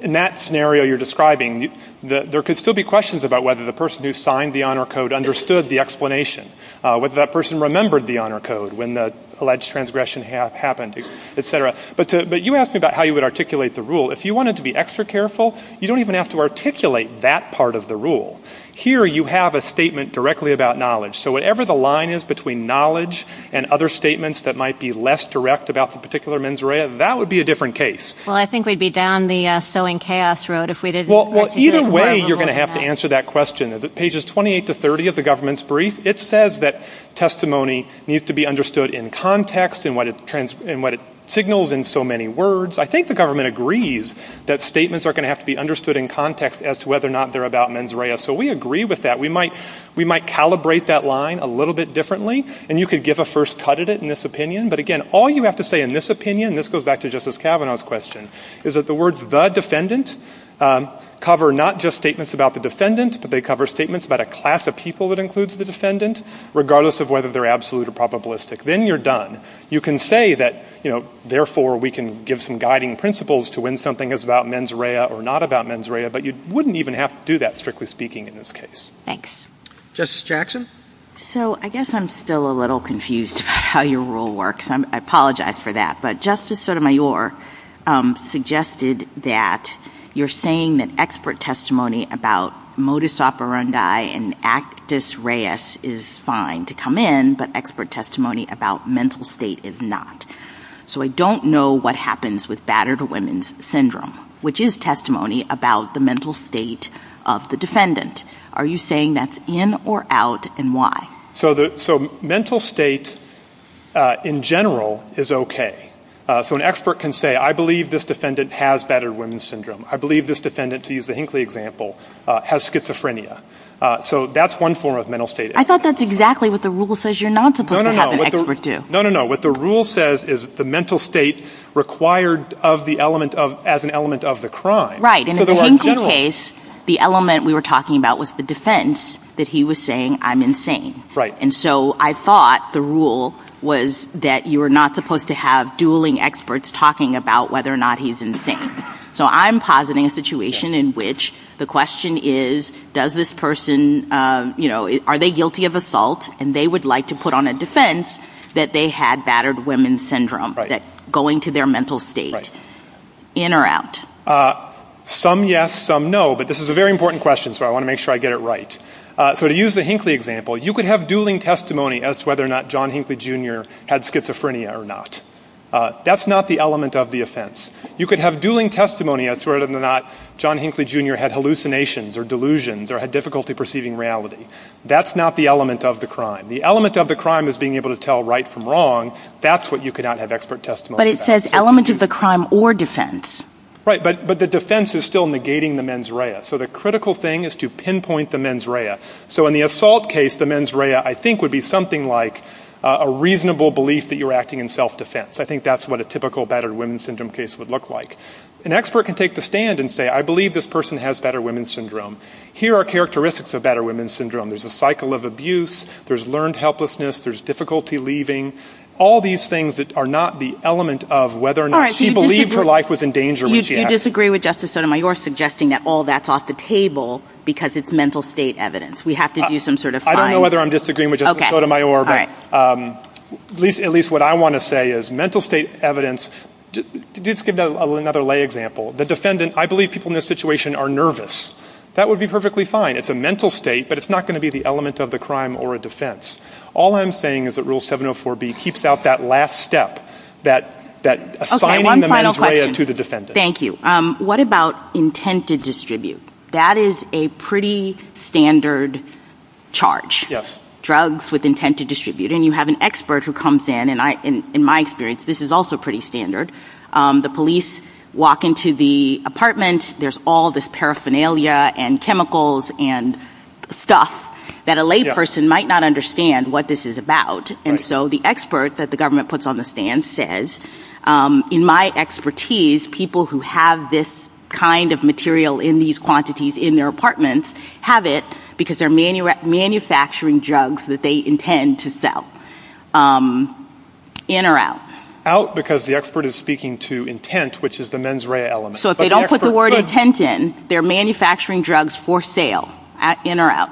In that scenario you're describing, there could still be questions about whether the person who signed the honor code understood the explanation, whether that person remembered the honor code when the alleged transgression happened, et cetera. But you asked me about how you would articulate the rule. If you wanted to be extra careful, you don't even have to articulate that part of the rule. Here you have a statement directly about knowledge. So whatever the line is between knowledge and other statements that might be less direct about the particular mens rea, that would be a different case. Well, I think we'd be down the sowing chaos road if we didn't... Well, either way you're going to have to answer that question. Pages 28 to 30 of the government's brief, it says that testimony needs to be understood in context and what it signals in so many words. I think the government agrees that statements are going to have to be understood in context as to whether or not they're about mens rea. So we agree with that. We might calibrate that line a little bit differently and you could give a first cut at it in this opinion. But again, all you have to say in this opinion, this goes back to Justice Kavanaugh's question, is that the words the defendant cover not just statements about the defendant, but they cover statements about a class of people that includes the defendant, regardless of whether they're absolute or probabilistic. Then you're done. You can say that, you know, therefore we can give some guiding principles to when something is about mens rea or not about mens rea, but you wouldn't even have to do that strictly speaking in this case. Thanks. Justice Jackson? So I guess I'm still a little confused about how your rule works. I apologize for that. But Justice Sotomayor suggested that you're saying that expert testimony about modus operandi and actus reus is fine to come in, but expert testimony about mental state is not. So I don't know what happens with battered women's syndrome, which is testimony about the mental state of the defendant. Are you saying that's in or out, and why? So mental state in general is okay. So an expert can say, I believe this defendant has battered women's syndrome. I believe this defendant, to use the Hinckley example, has schizophrenia. So that's one form of mental state. I thought that's exactly what the rule says. You're not supposed to have an expert do. No, no, no. What the rule says is the mental state required as an element of the crime. Right. But in the Hinckley case, the element we were talking about was the defense that he was saying, I'm insane. And so I thought the rule was that you were not supposed to have dueling experts talking about whether or not he's insane. So I'm positing a situation in which the question is, does this person, you know, are they guilty of assault? And they would like to put on a defense that they had battered women's syndrome, that going to their mental state, in or out? Some yes, some no, but this is a very important question, so I want to make sure I get it right. So to use the Hinckley example, you could have dueling testimony as to whether or not John Hinckley Jr. had schizophrenia or not. That's not the element of the offense. You could have dueling testimony as to whether or not John Hinckley Jr. had hallucinations or delusions or had difficulty perceiving reality. That's not the element of the crime. The element of the crime is being able to tell right from wrong. That's what you could not have expert testimony about. But it says element of the crime or defense. Right, but the defense is still negating the mens rea. So the critical thing is to pinpoint the mens rea. So in the assault case, the mens rea, I think, would be something like a reasonable belief that you're acting in self-defense. I think that's what a typical battered women's syndrome case would look like. An expert can take the stand and say, I believe this person has battered women's syndrome. Here are characteristics of battered women's syndrome. There's a cycle of abuse. There's learned helplessness. There's difficulty leaving. All these things that are not the element of whether or not she believed her life was in danger. You disagree with Justice Sotomayor suggesting that all that's off the table because it's mental state evidence. We have to do some sort of finding. I don't know whether I'm disagreeing with Justice Sotomayor, but at least what I want to say is mental state evidence, let's give another lay example. The defendant, I believe people in this situation are nervous. That would be perfectly fine. It's a mental state, but it's not going to be the element of the crime or a defense. All I'm saying is that rule 704B keeps out that last step, that assigning the managerial to the defendant. One final question. Thank you. What about intent to distribute? That is a pretty standard charge, drugs with intent to distribute, and you have an expert who comes in, and in my experience, this is also pretty standard. The police walk into the apartment. There's all this paraphernalia and chemicals and stuff that a layperson might not understand what this is about, and so the expert that the government puts on the stand says, in my expertise, people who have this kind of material in these quantities in their apartments have it because they're manufacturing drugs that they intend to sell, in or out? Out because the expert is speaking to intent, which is the mens rea element. So if they don't put the word intent in, they're manufacturing drugs for sale, in or out?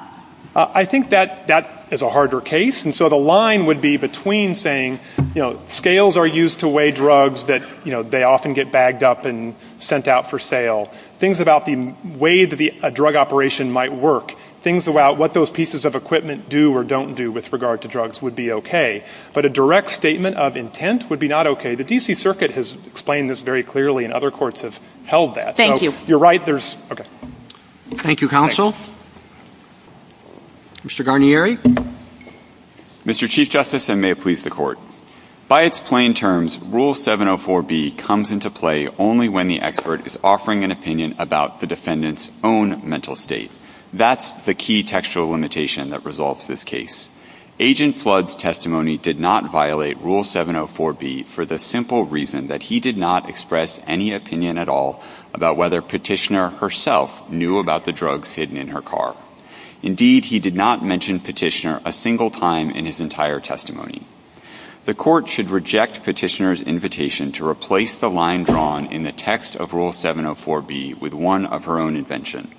I think that is a harder case, and so the line would be between saying, you know, scales are used to weigh drugs that, you know, they often get bagged up and sent out for sale. Things about the way that a drug operation might work. Things about what those pieces of equipment do or don't do with regard to drugs would be okay, but a direct statement of intent would be not okay. The D.C. Circuit has explained this very clearly, and other courts have held that. Thank you. You're right. Okay. Thank you, counsel. Mr. Garnieri? Mr. Chief Justice, and may it please the Court. By its plain terms, Rule 704B comes into play only when the expert is offering an opinion about the defendant's own mental state. That's the key textual limitation that results this case. Agent Flood's testimony did not violate Rule 704B for the simple reason that he did not express any opinion at all about whether Petitioner herself knew about the drugs hidden in her car. Indeed, he did not mention Petitioner a single time in his entire testimony. The Court should reject Petitioner's invitation to replace the line drawn in the text of Rule 704B with one of her own invention.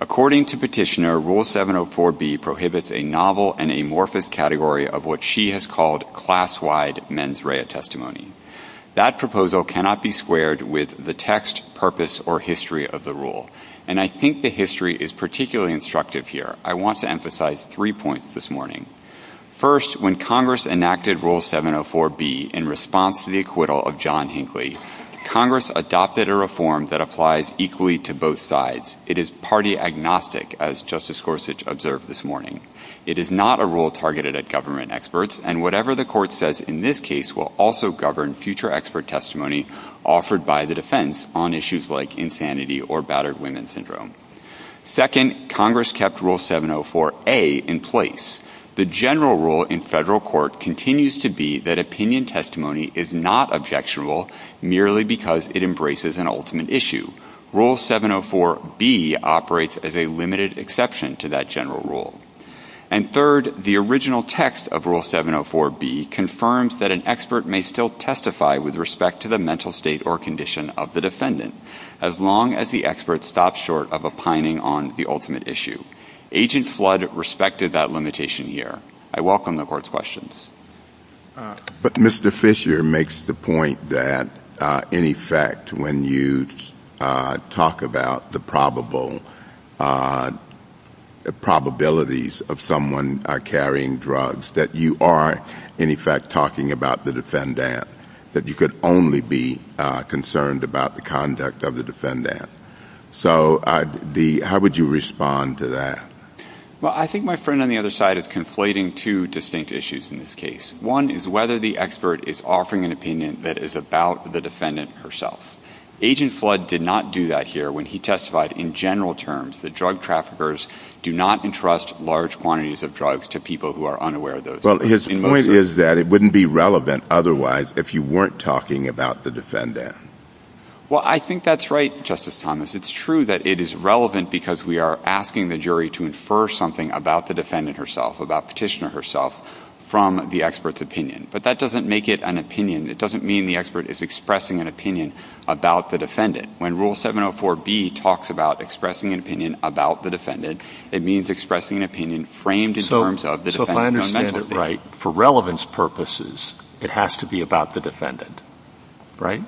According to Petitioner, Rule 704B prohibits a novel and amorphous category of what she has called class-wide mens rea testimony. That proposal cannot be squared with the text, purpose, or history of the rule. And I think the history is particularly instructive here. I want to emphasize three points this morning. First, when Congress enacted Rule 704B in response to the acquittal of John Hinckley, Congress adopted a reform that applies equally to both sides. It is party agnostic, as Justice Gorsuch observed this morning. It is not a rule targeted at government experts, and whatever the Court says in this case will also govern future expert testimony offered by the defense on issues like insanity or battered women syndrome. Second, Congress kept Rule 704A in place. The general rule in federal court continues to be that opinion testimony is not objectionable merely because it embraces an ultimate issue. Rule 704B operates as a limited exception to that general rule. And third, the original text of Rule 704B confirms that an expert may still testify with respect to the mental state or condition of the defendant, as long as the expert stops short of opining on the ultimate issue. Agent Flood respected that limitation here. I welcome the Court's questions. But Mr. Fisher makes the point that, in effect, when you talk about the probabilities of someone carrying drugs, that you are, in effect, talking about the defendant, that you could only be concerned about the conduct of the defendant. So how would you respond to that? Well, I think my friend on the other side is conflating two distinct issues in this case. One is whether the expert is offering an opinion that is about the defendant herself. Agent Flood did not do that here when he testified in general terms that drug traffickers do not entrust large quantities of drugs to people who are unaware of those. Well, his point is that it wouldn't be relevant otherwise if you weren't talking about the defendant. Well, I think that's right, Justice Thomas. It's true that it is relevant because we are asking the jury to infer something about the defendant herself, about Petitioner herself, from the expert's opinion. But that doesn't make it an opinion. It doesn't mean the expert is expressing an opinion about the defendant. When Rule 704B talks about expressing an opinion about the defendant, it means expressing an opinion framed in terms of the defendant. So if I understand it right, for relevance purposes, it has to be about the defendant, right?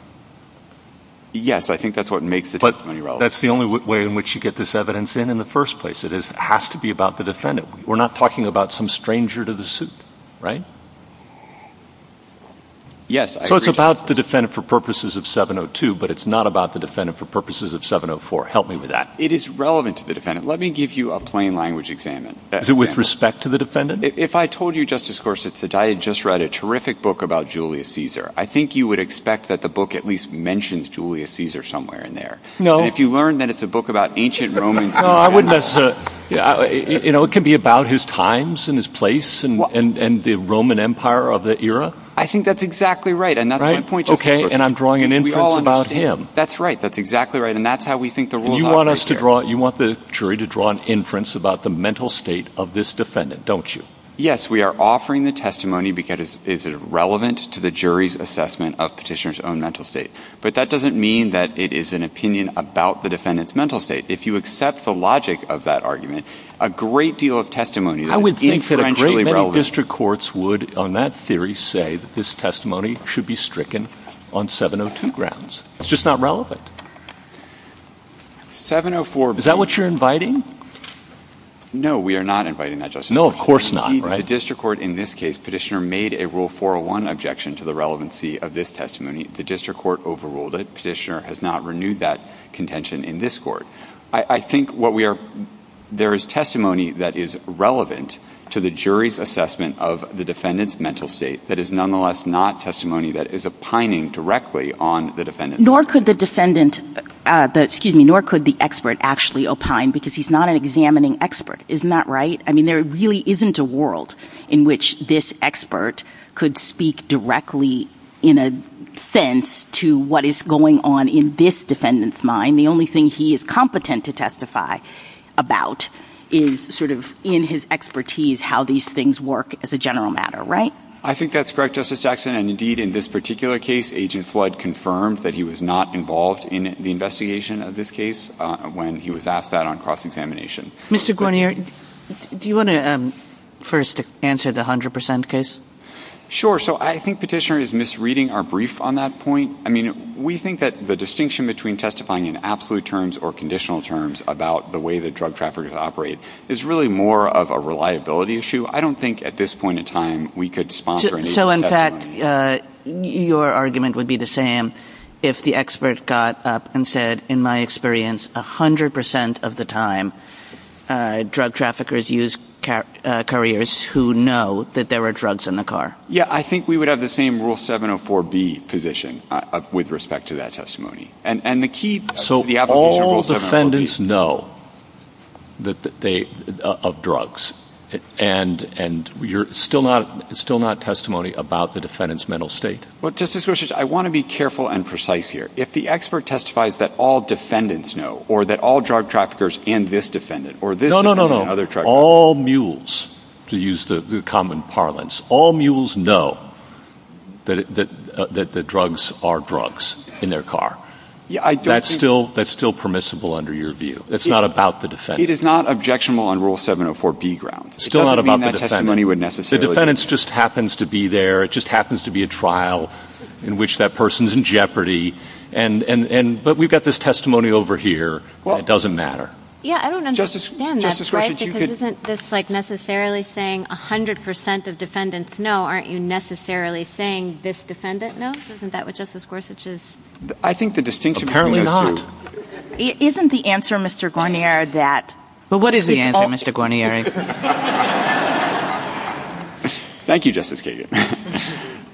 Yes. I think that's what makes the testimony relevant. That's the only way in which you get this evidence in, in the first place. It has to be about the defendant. We're not talking about some stranger to the suit, right? Yes, I agree. So it's about the defendant for purposes of 702, but it's not about the defendant for purposes of 704. Help me with that. It is relevant to the defendant. Let me give you a plain language examination. Is it with respect to the defendant? If I told you, Justice Gorsuch, that I had just read a terrific book about Julius Caesar, I think you would expect that the book at least mentions Julius Caesar somewhere in there. No. If you learn that it's a book about ancient Roman... No, I wouldn't necessarily... You know, it could be about his times and his place and the Roman Empire of the era. I think that's exactly right. And that's my point. Okay. And I'm drawing an inference about him. That's right. That's exactly right. And that's how we think the rules are. You want us to draw... You want the jury to draw an inference about the mental state of this defendant, don't you? Yes, we are offering the testimony because it is relevant to the jury's assessment of petitioner's own mental state. But that doesn't mean that it is an opinion about the defendant's mental state. If you accept the logic of that argument, a great deal of testimony... I would think that a great many district courts would, on that theory, say that this testimony should be stricken on 702 grounds. It's just not relevant. 704... Is that what you're inviting? No, we are not inviting that, Justice. No, of course not. The district court, in this case, petitioner made a Rule 401 objection to the relevancy of this testimony. The district court overruled it. Petitioner has not renewed that contention in this court. I think what we are... There is testimony that is relevant to the jury's assessment of the defendant's mental state that is nonetheless not testimony that is opining directly on the defendant. Nor could the defendant, excuse me, nor could the expert actually opine because he's not an examining expert. Isn't that right? I mean, there really isn't a world in which this expert could speak directly in a sense to what is going on in this defendant's mind. The only thing he is competent to testify about is sort of in his expertise how these things work as a general matter, right? I think that's correct, Justice Jackson, and indeed in this particular case, Agent Flood confirmed that he was not involved in the investigation of this case when he was asked that on cross-examination. Mr. Gornier, do you want to first answer the 100% case? Sure. So I think Petitioner is misreading our brief on that point. I mean, we think that the distinction between testifying in absolute terms or conditional terms about the way that drug traffickers operate is really more of a reliability issue. I don't think at this point in time we could sponsor any of this testimony. So in fact, your argument would be the same if the expert got up and said, in my experience, 100% of the time drug traffickers use couriers who know that there are drugs in the car. Yeah, I think we would have the same Rule 704B position with respect to that testimony. So all defendants know of drugs, and you're still not testimony about the defendant's mental state? Well, Justice Gorsuch, I want to be careful and precise here. If the expert testifies that all defendants know, or that all drug traffickers and this defendant, or this defendant and other traffickers know... No, no, no, no. All mules, to use the common parlance, all mules know that the drugs are drugs in their car. Yeah, I do. That's still permissible under your view. It's not about the defendant. It is not objectionable on Rule 704B grounds. Still not about the defendant. It doesn't mean that testimony would necessarily... The defendant just happens to be there, it just happens to be a trial in which that person comes in jeopardy, but we've got this testimony over here, it doesn't matter. Justice Gorsuch, isn't this necessarily saying 100% of defendants know, aren't you necessarily saying this defendant knows? Isn't that what Justice Gorsuch is... I think the distinction... Apparently not. Isn't the answer, Mr. Guarnieri, that... Well, what is the answer, Mr. Guarnieri? Thank you, Justice Kagan.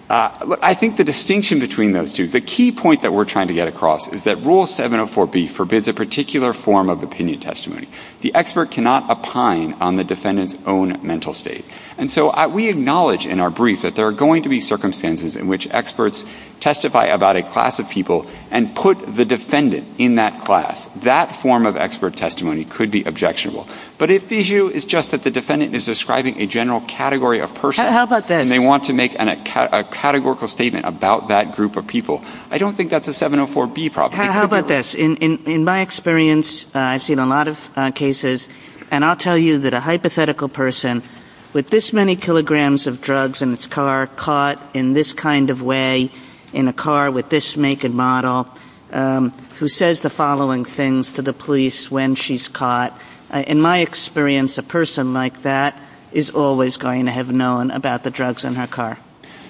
I think the distinction between those two, the key point that we're trying to get across is that Rule 704B forbids a particular form of opinion testimony. The expert cannot opine on the defendant's own mental state. And so we acknowledge in our brief that there are going to be circumstances in which experts testify about a class of people and put the defendant in that class. That form of expert testimony could be objectionable. But if the issue is just that the defendant is describing a general category of person... I don't think we need to make a categorical statement about that group of people. I don't think that's a 704B problem. How about this? In my experience, I've seen a lot of cases, and I'll tell you that a hypothetical person with this many kilograms of drugs in his car, caught in this kind of way, in a car with this naked model, who says the following things to the police when she's caught, in my experience, a person like that is always going to have known about the drugs in her car.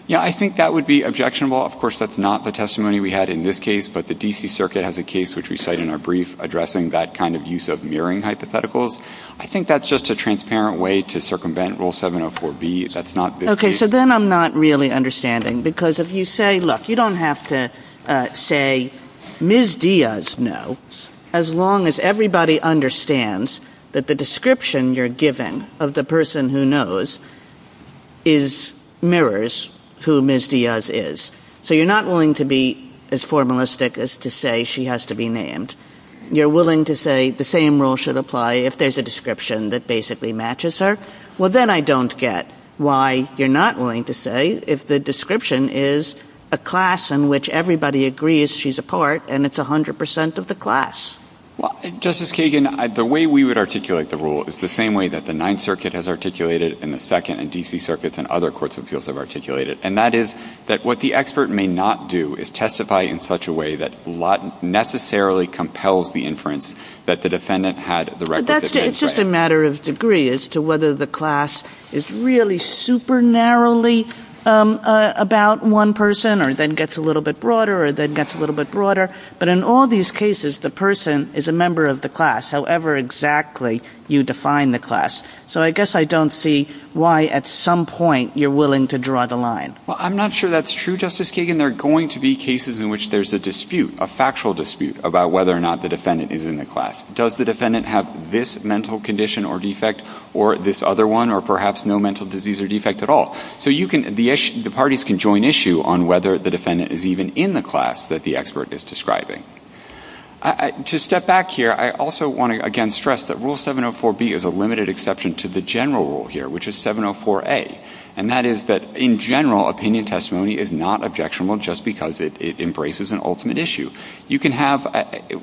Yeah, I think that would be objectionable. Of course, that's not the testimony we had in this case, but the D.C. Circuit has a case which we cite in our brief addressing that kind of use of mirroring hypotheticals. I think that's just a transparent way to circumvent Rule 704B. That's not this case. Okay, so then I'm not really understanding. Because if you say, look, you don't have to say, Ms. Diaz, no, as long as everybody understands that the description you're giving of the person who knows is, mirrors who Ms. Diaz is. So you're not willing to be as formalistic as to say she has to be named. You're willing to say the same rule should apply if there's a description that basically matches her. Well, then I don't get why you're not willing to say if the description is a class in which everybody agrees she's a part, and it's 100% of the class. Well, Justice Kagan, the way we would articulate the rule is the same way that the Ninth Circuit has articulated and the Second and D.C. Circuits and other courts of appeals have articulated. And that is that what the expert may not do is testify in such a way that not necessarily compels the inference that the defendant had the right to say. But that's just a matter of degree as to whether the class is really super narrowly about one person or then gets a little bit broader or then gets a little bit broader. But in all these cases, the person is a member of the class, however exactly you define the class. So I guess I don't see why at some point you're willing to draw the line. Well, I'm not sure that's true, Justice Kagan. There are going to be cases in which there's a dispute, a factual dispute, about whether or not the defendant is in the class. Does the defendant have this mental condition or defect or this other one or perhaps no mental disease or defect at all? So you can, the parties can join issue on whether the defendant is even in the class that the expert is describing. To step back here, I also want to again stress that Rule 704B is a limited exception to the general rule here, which is 704A. And that is that in general, opinion testimony is not objectionable just because it embraces an ultimate issue. You can have,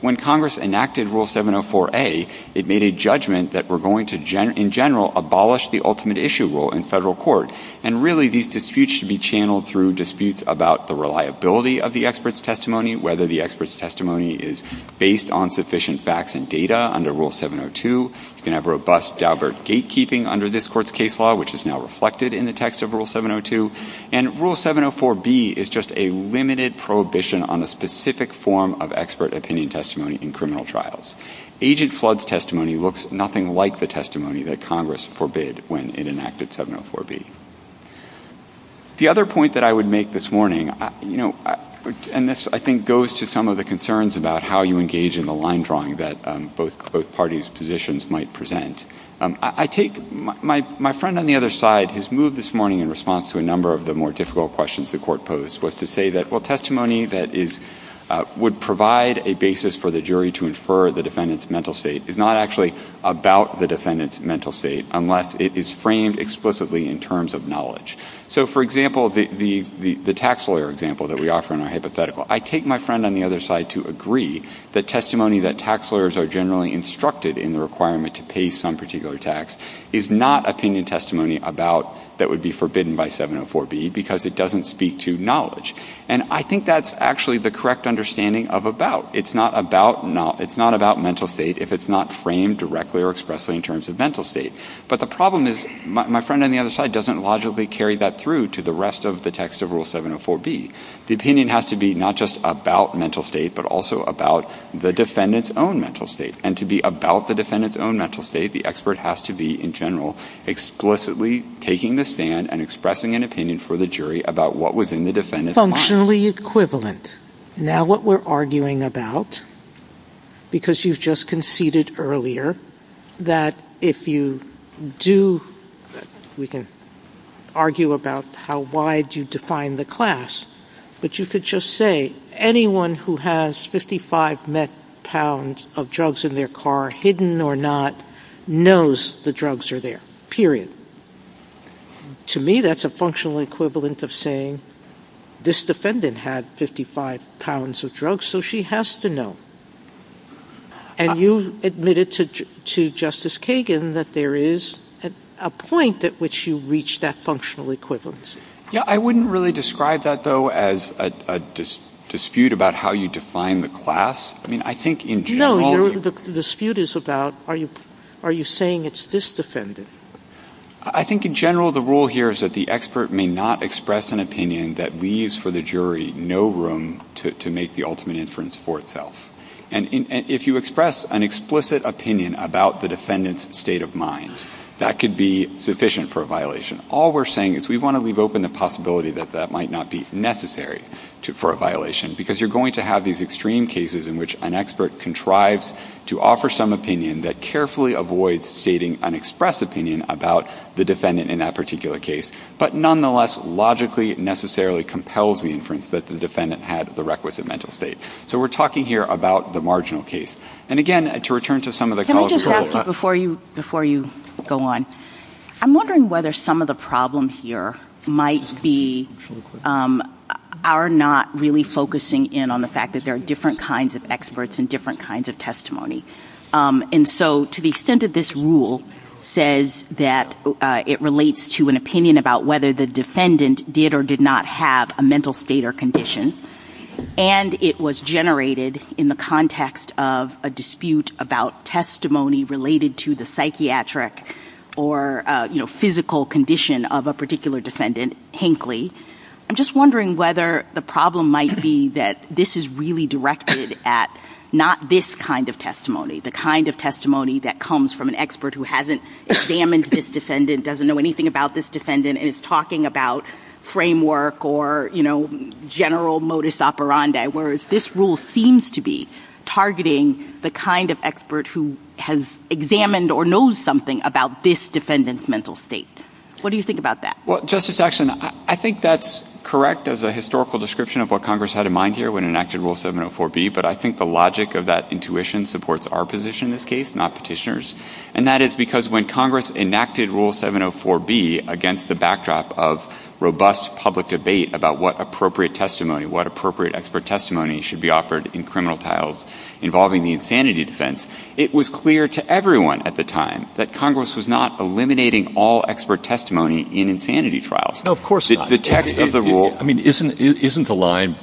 when Congress enacted Rule 704A, it made a judgment that we're going to in general abolish the ultimate issue rule in federal court. And really these disputes should be channeled through disputes about the reliability of the expert's testimony, whether the expert's testimony is based on sufficient facts and data under Rule 702. You can have robust Daubert gatekeeping under this court's case law, which is now reflected in the text of Rule 702. And Rule 704B is just a limited prohibition on a specific form of expert opinion testimony in criminal trials. Agent Flood's testimony looks nothing like the testimony that Congress forbid when it enacted 704B. The other point that I would make this morning, you know, and this I think goes to some of the concerns about how you engage in the line drawing that both parties' positions might present. I take, my friend on the other side has moved this morning in response to a number of the more difficult questions the court posed, was to say that, well, testimony that is, would provide a basis for the jury to infer the defendant's mental state is not actually about the defendant's mental state unless it is framed explicitly in terms of knowledge. So for example, the tax lawyer example that we offer in our hypothetical, I take my friend on the other side to agree that testimony that tax lawyers are generally instructed in the requirement to pay some particular tax is not opinion testimony about, that would be forbidden by 704B because it doesn't speak to knowledge. And I think that's actually the correct understanding of about. It's not about mental state if it's not framed directly or expressly in terms of mental state. But the problem is, my friend on the other side doesn't logically carry that through to the rest of the text of Rule 704B. The opinion has to be not just about mental state, but also about the defendant's own mental state. And to be about the defendant's own mental state, the expert has to be in general explicitly taking the stand and expressing an opinion for the jury about what was in the defendant's mind. Functionally equivalent. Now what we're arguing about, because you've just conceded earlier that if you do, we can argue about how wide you define the class, but you could just say anyone who has 55 met pounds of drugs in their car, hidden or not, knows the drugs are there, period. To me, that's a functional equivalent of saying, this defendant had 55 pounds of drugs, so she has to know. And you admitted to Justice Kagan that there is a point at which you reach that functional equivalence. Yeah, I wouldn't really describe that, though, as a dispute about how you define the class. I mean, I think in general... No, the dispute is about, are you saying it's this defendant? I think in general, the rule here is that the expert may not express an opinion that leaves for the jury no room to make the ultimate inference for itself. If you express an explicit opinion about the defendant's state of mind, that could be sufficient for a violation. All we're saying is we want to reopen the possibility that that might not be necessary for a violation, because you're going to have these extreme cases in which an expert contrives to offer some opinion that carefully avoids stating an express opinion about the defendant in that particular case, but nonetheless, logically, necessarily compels the inference that the defendant had the requisite mental state. So we're talking here about the marginal case. And again, to return to some of the... Can I just ask you, before you go on, I'm wondering whether some of the problems here might be...are not really focusing in on the fact that there are different kinds of experts and different kinds of testimony. And so, to the extent that this rule says that it relates to an opinion about whether the defendant did or did not have a mental state or condition, and it was generated in the context of a dispute about testimony related to the psychiatric or physical condition of a particular defendant, Hinkley, I'm just wondering whether the problem might be that this is really directed at not this kind of testimony, the kind of testimony that comes from an expert who hasn't examined this defendant, doesn't know anything about this defendant, is talking about framework or, you know, general modus operandi, whereas this rule seems to be targeting the kind of expert who has examined or knows something about this defendant's mental state. What do you think about that? Well, Justice Axson, I think that's correct as a historical description of what Congress had in mind here when it enacted Rule 704B, but I think the logic of that intuition supports our position in this case, not petitioners. And that is because when Congress enacted Rule 704B against the backdrop of robust public debate about what appropriate testimony, what appropriate expert testimony should be offered in criminal trials involving the insanity defense, it was clear to everyone at the time that Congress was not eliminating all expert testimony in insanity trials. No, of course not. I mean, isn't the line,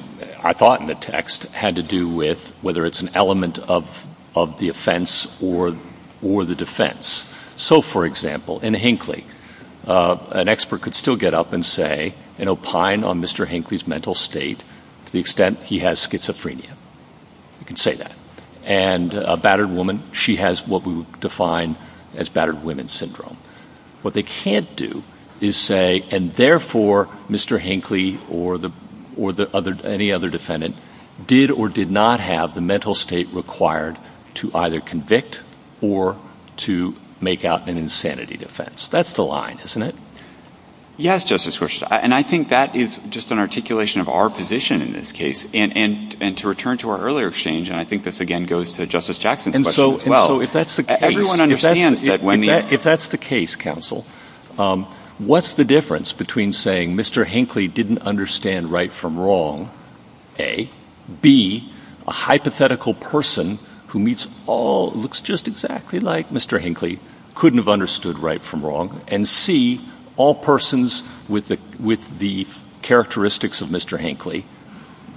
I thought in the text, had to do with whether it's an element of the offense or the defense? So for example, in Hinckley, an expert could still get up and say, and opine on Mr. Hinckley's mental state to the extent he has schizophrenia, you could say that. And a battered woman, she has what we would define as battered women syndrome. What they can't do is say, and therefore, Mr. Hinckley or any other defendant did or did not have the mental state required to either convict or to make out an insanity defense. That's the line, isn't it? Yes, Justice Schwartz. And I think that is just an articulation of our position in this case. And to return to our earlier exchange, and I think this again goes to Justice Jackson's question as well. So if that's the case, counsel, what's the difference between saying Mr. Hinckley didn't understand right from wrong, A, B, a hypothetical person who meets all, looks just exactly like Mr. Hinckley, couldn't have understood right from wrong, and C, all persons with the characteristics of Mr. Hinckley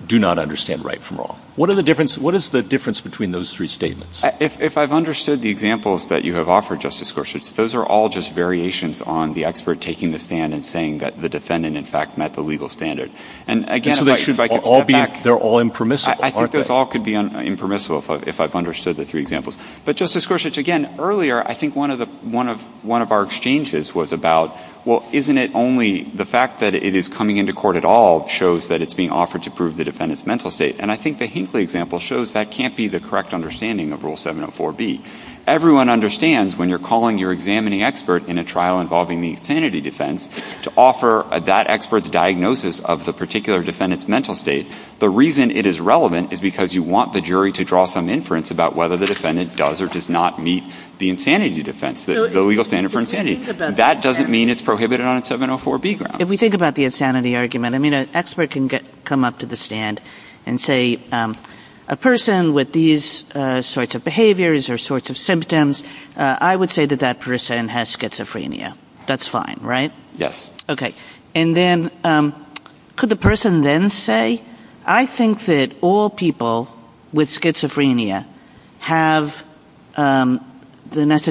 do not understand right from wrong. What is the difference between those three statements? If I've understood the examples that you have offered, Justice Gorsuch, those are all just variations on the expert taking the stand and saying that the defendant, in fact, met the legal standard. And, again, if I could go back. They're all impermissible. I think this all could be impermissible if I've understood the three examples. But Justice Gorsuch, again, earlier, I think one of our exchanges was about, well, isn't it only the fact that it is coming into court at all shows that it's being offered to prove the defendant's mental state. And I think the Hinckley example shows that can't be the correct understanding of Rule 704B. Everyone understands when you're calling your examining expert in a trial involving the insanity defense to offer that expert's diagnosis of the particular defendant's mental state. The reason it is relevant is because you want the jury to draw some inference about whether the defendant does or does not meet the insanity defense, the legal standard for insanity. That doesn't mean it's prohibited on 704B grounds. If we think about the insanity argument, I mean, an expert can come up to the stand and say, a person with these sorts of behaviors or sorts of symptoms, I would say that that person has schizophrenia. That's fine, right? Yes. Okay. And then could the person then say, I think that all people with schizophrenia have the I don't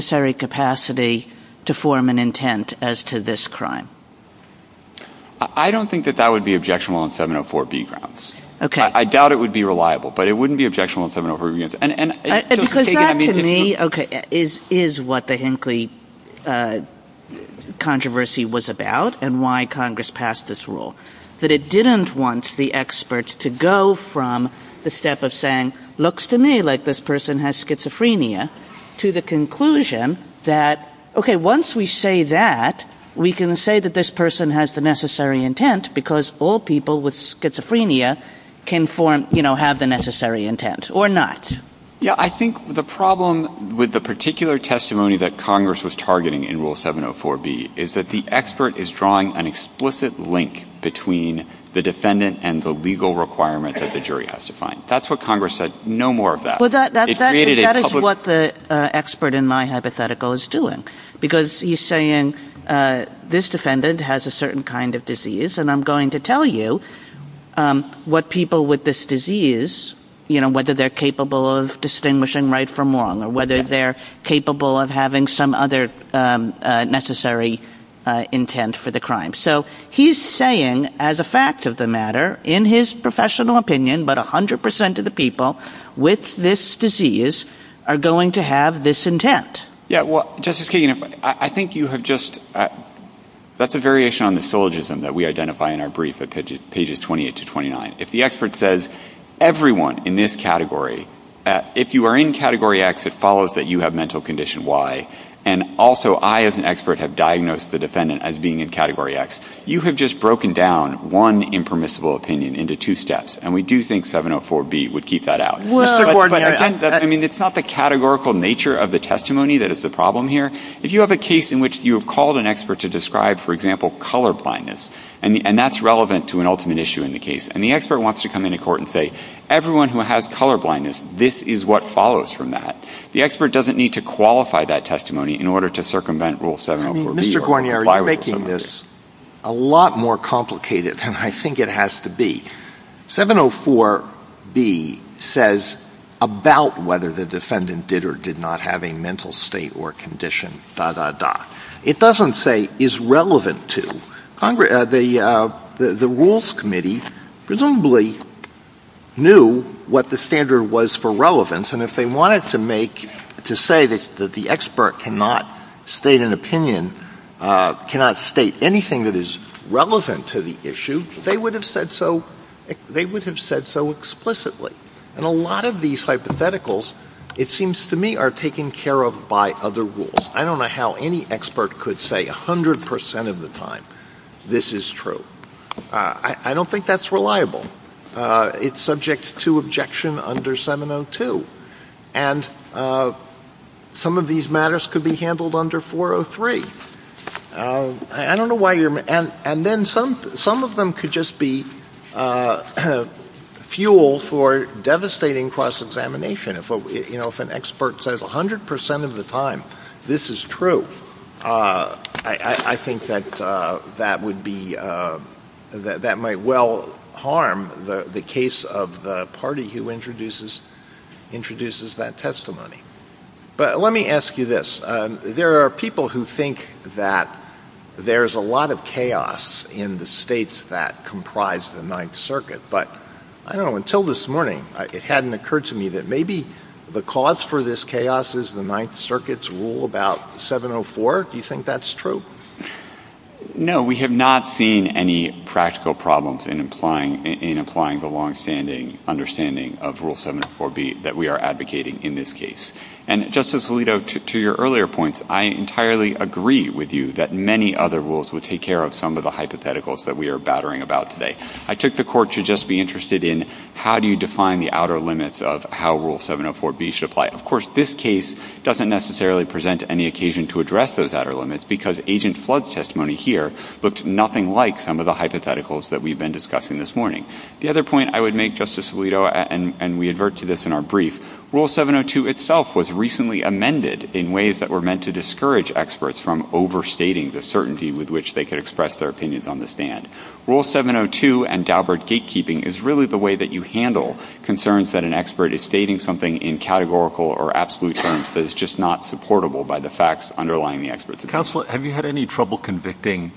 think that that would be objectionable on 704B grounds. I doubt it would be reliable, but it wouldn't be objectionable on 704B grounds. And because that to me, okay, is what the Hinckley controversy was about and why Congress passed this rule, that it didn't want the experts to go from the step of saying, looks to me like this person has schizophrenia to the conclusion that, okay, once we say that, we can say that this person has the necessary intent because all people with schizophrenia can form, you know, have the necessary intent or not. Yeah. I think the problem with the particular testimony that Congress was targeting in rule 704B is that the expert is drawing an explicit link between the defendant and the legal requirement that the jury has to find. That's what Congress said. No more of that. Well, that is what the expert in my hypothetical is doing. Because he's saying this defendant has a certain kind of disease and I'm going to tell you what people with this disease, you know, whether they're capable of distinguishing right from wrong or whether they're capable of having some other necessary intent for the crime. So he's saying as a fact of the matter, in his professional opinion, but 100% of the people with this disease are going to have this intent. Yeah. Well, Justice Kagan, I think you have just, that's a variation on the syllogism that we identify in our brief at pages 28 to 29. If the expert says everyone in this category, if you are in category X, it follows that you have mental condition Y. And also I as an expert have diagnosed the defendant as being in category X. You have just broken down one impermissible opinion into two steps. And we do think 704B would keep that out. But I mean, it's not the categorical nature of the testimony that is the problem here. If you have a case in which you have called an expert to describe, for example, color blindness, and that's relevant to an ultimate issue in the case. And the expert wants to come into court and say, everyone who has color blindness, this is what follows from that. The expert doesn't need to qualify that testimony in order to circumvent rule 704B. Mr. Guarnieri, you're making this a lot more complicated than I think it has to be. 704B says about whether the defendant did or did not have a mental state or condition, da, da, da. It doesn't say is relevant to. The Rules Committee presumably knew what the standard was for relevance. And if they wanted to make, to say that the expert cannot state an opinion, cannot state anything that is relevant to the issue, they would have said so explicitly. And a lot of these hypotheticals, it seems to me, are taken care of by other rules. I don't know how any expert could say 100% of the time, this is true. I don't think that's reliable. It's subject to objection under 702. And some of these matters could be handled under 403. I don't know why you're—and then some of them could just be fuel for devastating cross-examination. If an expert says 100% of the time, this is true, I think that that might well harm the case of the party who introduces that testimony. But let me ask you this. There are people who think that there's a lot of chaos in the states that comprise the Ninth Circuit. But, I don't know, until this morning, it hadn't occurred to me that maybe the cause for this chaos is the Ninth Circuit's rule about 704. Do you think that's true? MR. No, we have not seen any practical problems in implying the longstanding understanding of Rule 704B that we are advocating in this case. And, Justice Alito, to your earlier points, I entirely agree with you that many other rules would take care of some of the hypotheticals that we are battering about today. I took the Court to just be interested in how do you define the outer limits of how Rule 704B should apply. Of course, this case doesn't necessarily present any occasion to address those outer limits because Agent Flood's testimony here looked nothing like some of the hypotheticals that we've been discussing this morning. The other point I would make, Justice Alito, and we advert to this in our brief, Rule 702 was recently amended in ways that were meant to discourage experts from overstating the certainty with which they could express their opinions on the stand. Rule 702 and Daubert gatekeeping is really the way that you handle concerns that an expert is stating something in categorical or absolute terms that is just not supportable by the facts underlying the expert's opinion. Counsel, have you had any trouble convicting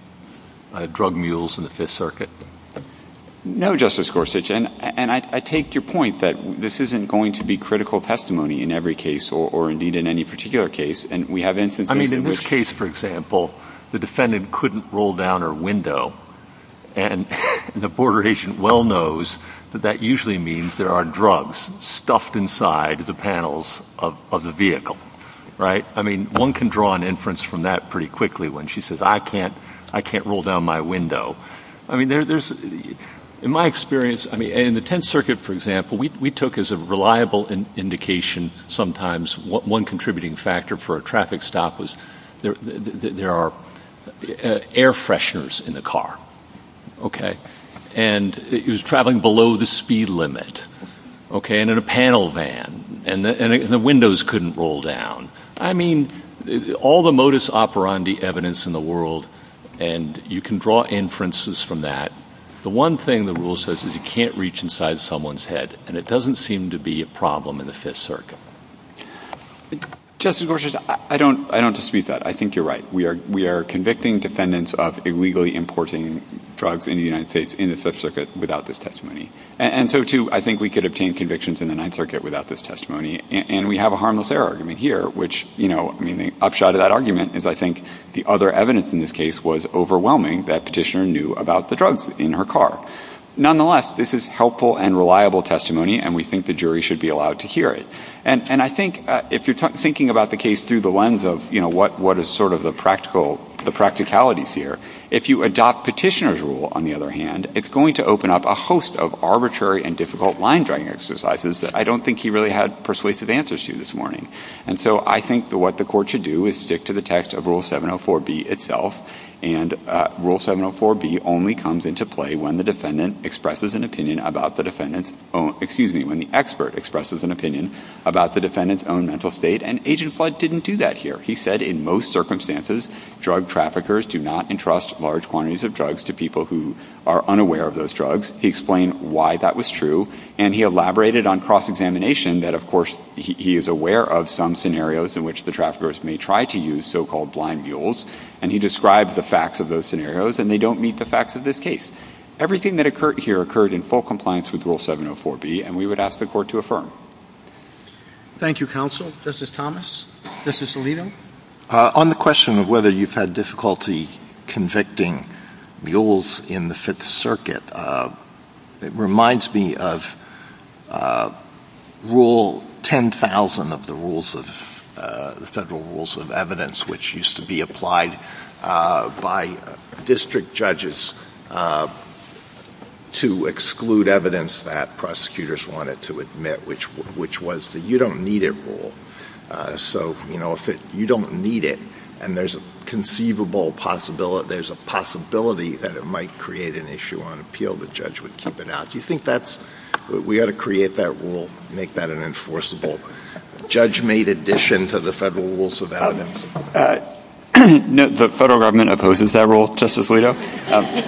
drug mules in the Fifth Circuit? No, Justice Gorsuch, and I take your point that this isn't going to be critical testimony in every case or, indeed, in any particular case, and we have instances in which... I mean, in this case, for example, the defendant couldn't roll down her window, and the Border Agent well knows that that usually means there are drugs stuffed inside the panels of the vehicle, right? I mean, one can draw an inference from that pretty quickly when she says, I can't roll down my window. I mean, in my experience, I mean, in the Tenth Circuit, for example, we took as a reliable indication sometimes one contributing factor for a traffic stop was there are air fresheners in the car, okay, and it was traveling below the speed limit, okay, and in a panel van, and the windows couldn't roll down. I mean, all the modus operandi evidence in the world, and you can draw inferences from that. The one thing the rule says is you can't reach inside someone's head, and it doesn't seem to be a problem in the Fifth Circuit. Justice Gorsuch, I don't dispute that. I think you're right. We are convicting defendants of illegally importing drugs in the United States in the Fifth Circuit without this testimony, and so, too, I think we could obtain convictions in the Ninth Circuit without this testimony, and we have a harmless error argument here, which, you know, I mean, the upshot of that argument is I think the other evidence in this case was overwhelming that Petitioner knew about the drugs in her car. Nonetheless, this is helpful and reliable testimony, and we think the jury should be allowed to hear it, and I think if you're thinking about the case through the lens of, you know, what is sort of the practicalities here, if you adopt Petitioner's rule, on the other hand, it's going to open up a host of arbitrary and difficult line dragging exercises that I don't think he really had persuasive answers to this morning. And so, I think what the court should do is stick to the text of Rule 704B itself, and Rule 704B only comes into play when the defendant expresses an opinion about the defendant's own, excuse me, when the expert expresses an opinion about the defendant's own mental state, and Agent Flood didn't do that here. He said in most circumstances, drug traffickers do not entrust large quantities of drugs to people who are unaware of those drugs. He explained why that was true, and he elaborated on cross-examination that, of course, he is aware of some scenarios in which the traffickers may try to use so-called blind mules, and he described the facts of those scenarios, and they don't meet the facts of this case. Everything that occurred here occurred in full compliance with Rule 704B, and we would ask the court to affirm. Thank you, counsel. Justice Thomas? Justice Alito? On the question of whether you've had difficulty convicting mules in the Fifth Circuit, it was one of the federal rules of evidence which used to be applied by district judges to exclude evidence that prosecutors wanted to admit, which was the you-don't-need-it rule. So, you know, if you don't need it, and there's a conceivable possibility that it might create an issue on appeal, the judge would keep it out. Do you think that's – we ought to create that rule, make that an enforceable – judge-made addition to the federal rules of evidence? The federal government opposes that rule, Justice Alito.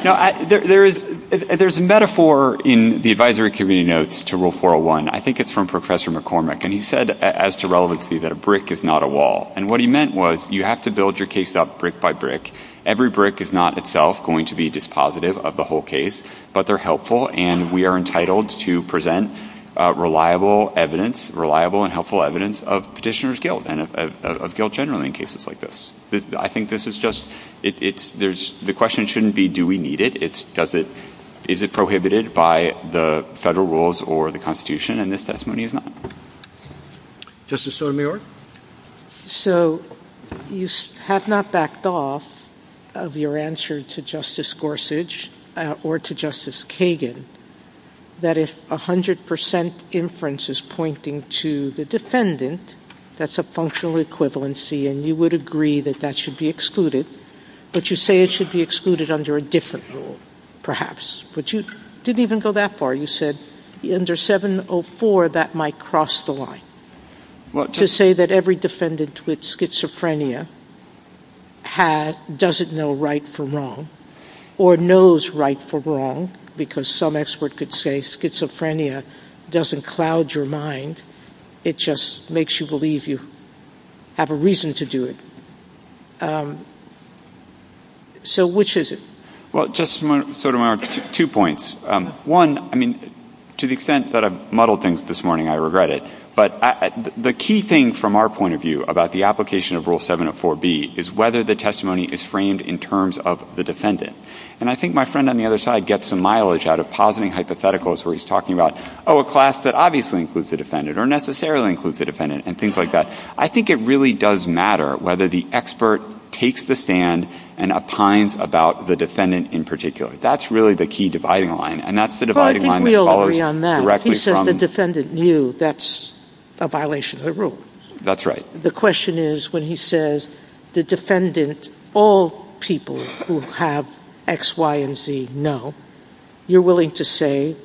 Now, there's a metaphor in the advisory committee notes to Rule 401. I think it's from Professor McCormack, and he said, as to relevancy, that a brick is not a wall. And what he meant was you have to build your case up brick by brick. Every brick is not itself going to be dispositive of the whole case, but they're helpful, and we are entitled to present reliable evidence, reliable and helpful evidence of petitioner's guilt and of guilt generally in cases like this. I think this is just – it's – there's – the question shouldn't be do we need it. It's does it – is it prohibited by the federal rules or the Constitution, and this testimony is not. Justice Sotomayor? So, you have not backed off of your answer to Justice Gorsuch or to Justice Kagan that if 100 percent inference is pointing to the defendant, that's a functional equivalency and you would agree that that should be excluded, but you say it should be excluded under a different rule, perhaps, but you didn't even go that far. You said under 704, that might cross the line. To say that every defendant with schizophrenia has – doesn't know right from wrong or knows right from wrong, because some expert could say schizophrenia doesn't cloud your mind, it just makes you believe you have a reason to do it. So which is it? Well, Justice Sotomayor, two points. One, I mean, to the extent that I muddled things this morning, I regret it, but the key thing from our point of view about the application of Rule 704B is whether the testimony is framed in terms of the defendant. And I think my friend on the other side gets some mileage out of positing hypotheticals where he's talking about, oh, a class that obviously includes the defendant or necessarily includes the defendant and things like that. I think it really does matter whether the expert takes the stand and opines about the defendant in particular. That's really the key dividing line, and that's the dividing line that follows directly Well, I think we all agree on that. He said the defendant knew that's a violation of the rule. That's right. The question is, when he says the defendant, all people who have X, Y, and Z know, you're willing to say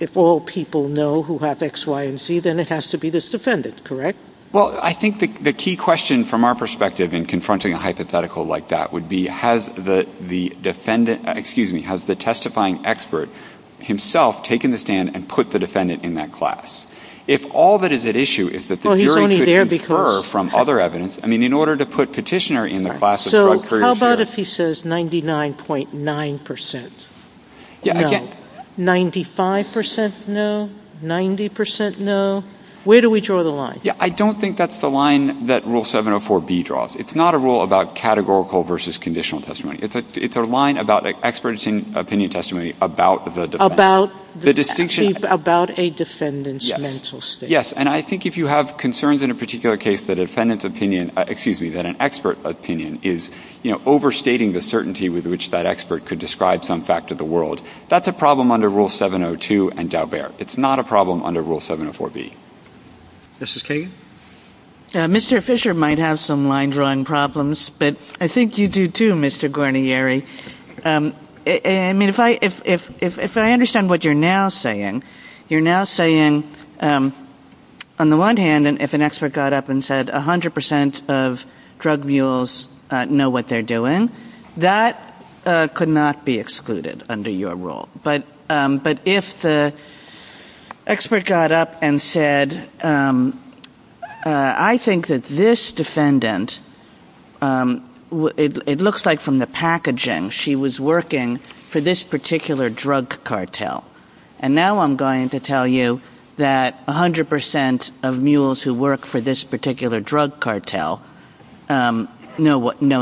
if all people know who have X, Y, and Z, then it has to be this defendant, correct? Well, I think the key question from our perspective in confronting a hypothetical like that would be, has the testifying expert himself taken the stand and put the defendant in that class? If all that is at issue is that the jury could infer from other evidence, I mean, in order to put Petitioner in the class of drug couriers, how about if he says 99.9% no, 95% no, 90% no? Where do we draw the line? Yeah, I don't think that's the line that Rule 704B draws. It's not a rule about categorical versus conditional testimony. It's a line about expert opinion testimony about the defendant. About a defendant's mental state. Yes, and I think if you have concerns in a particular case that a defendant's opinion, excuse me, that an expert opinion is overstating the certainty with which that expert could describe some fact of the world, that's a problem under Rule 702 and Daubert. It's not a problem under Rule 704B. Mrs. Kagan? Mr. Fisher might have some line-drawing problems, but I think you do too, Mr. Guarnieri. I mean, if I understand what you're now saying, you're now saying, on the one hand, if an expert got up and said 100% of drug mules know what they're doing, that could not be excluded under your rule. But if the expert got up and said, I think that this defendant, it looks like from the packaging, she was working for this particular drug cartel. And now I'm going to tell you that 100% of mules who work for this particular drug cartel know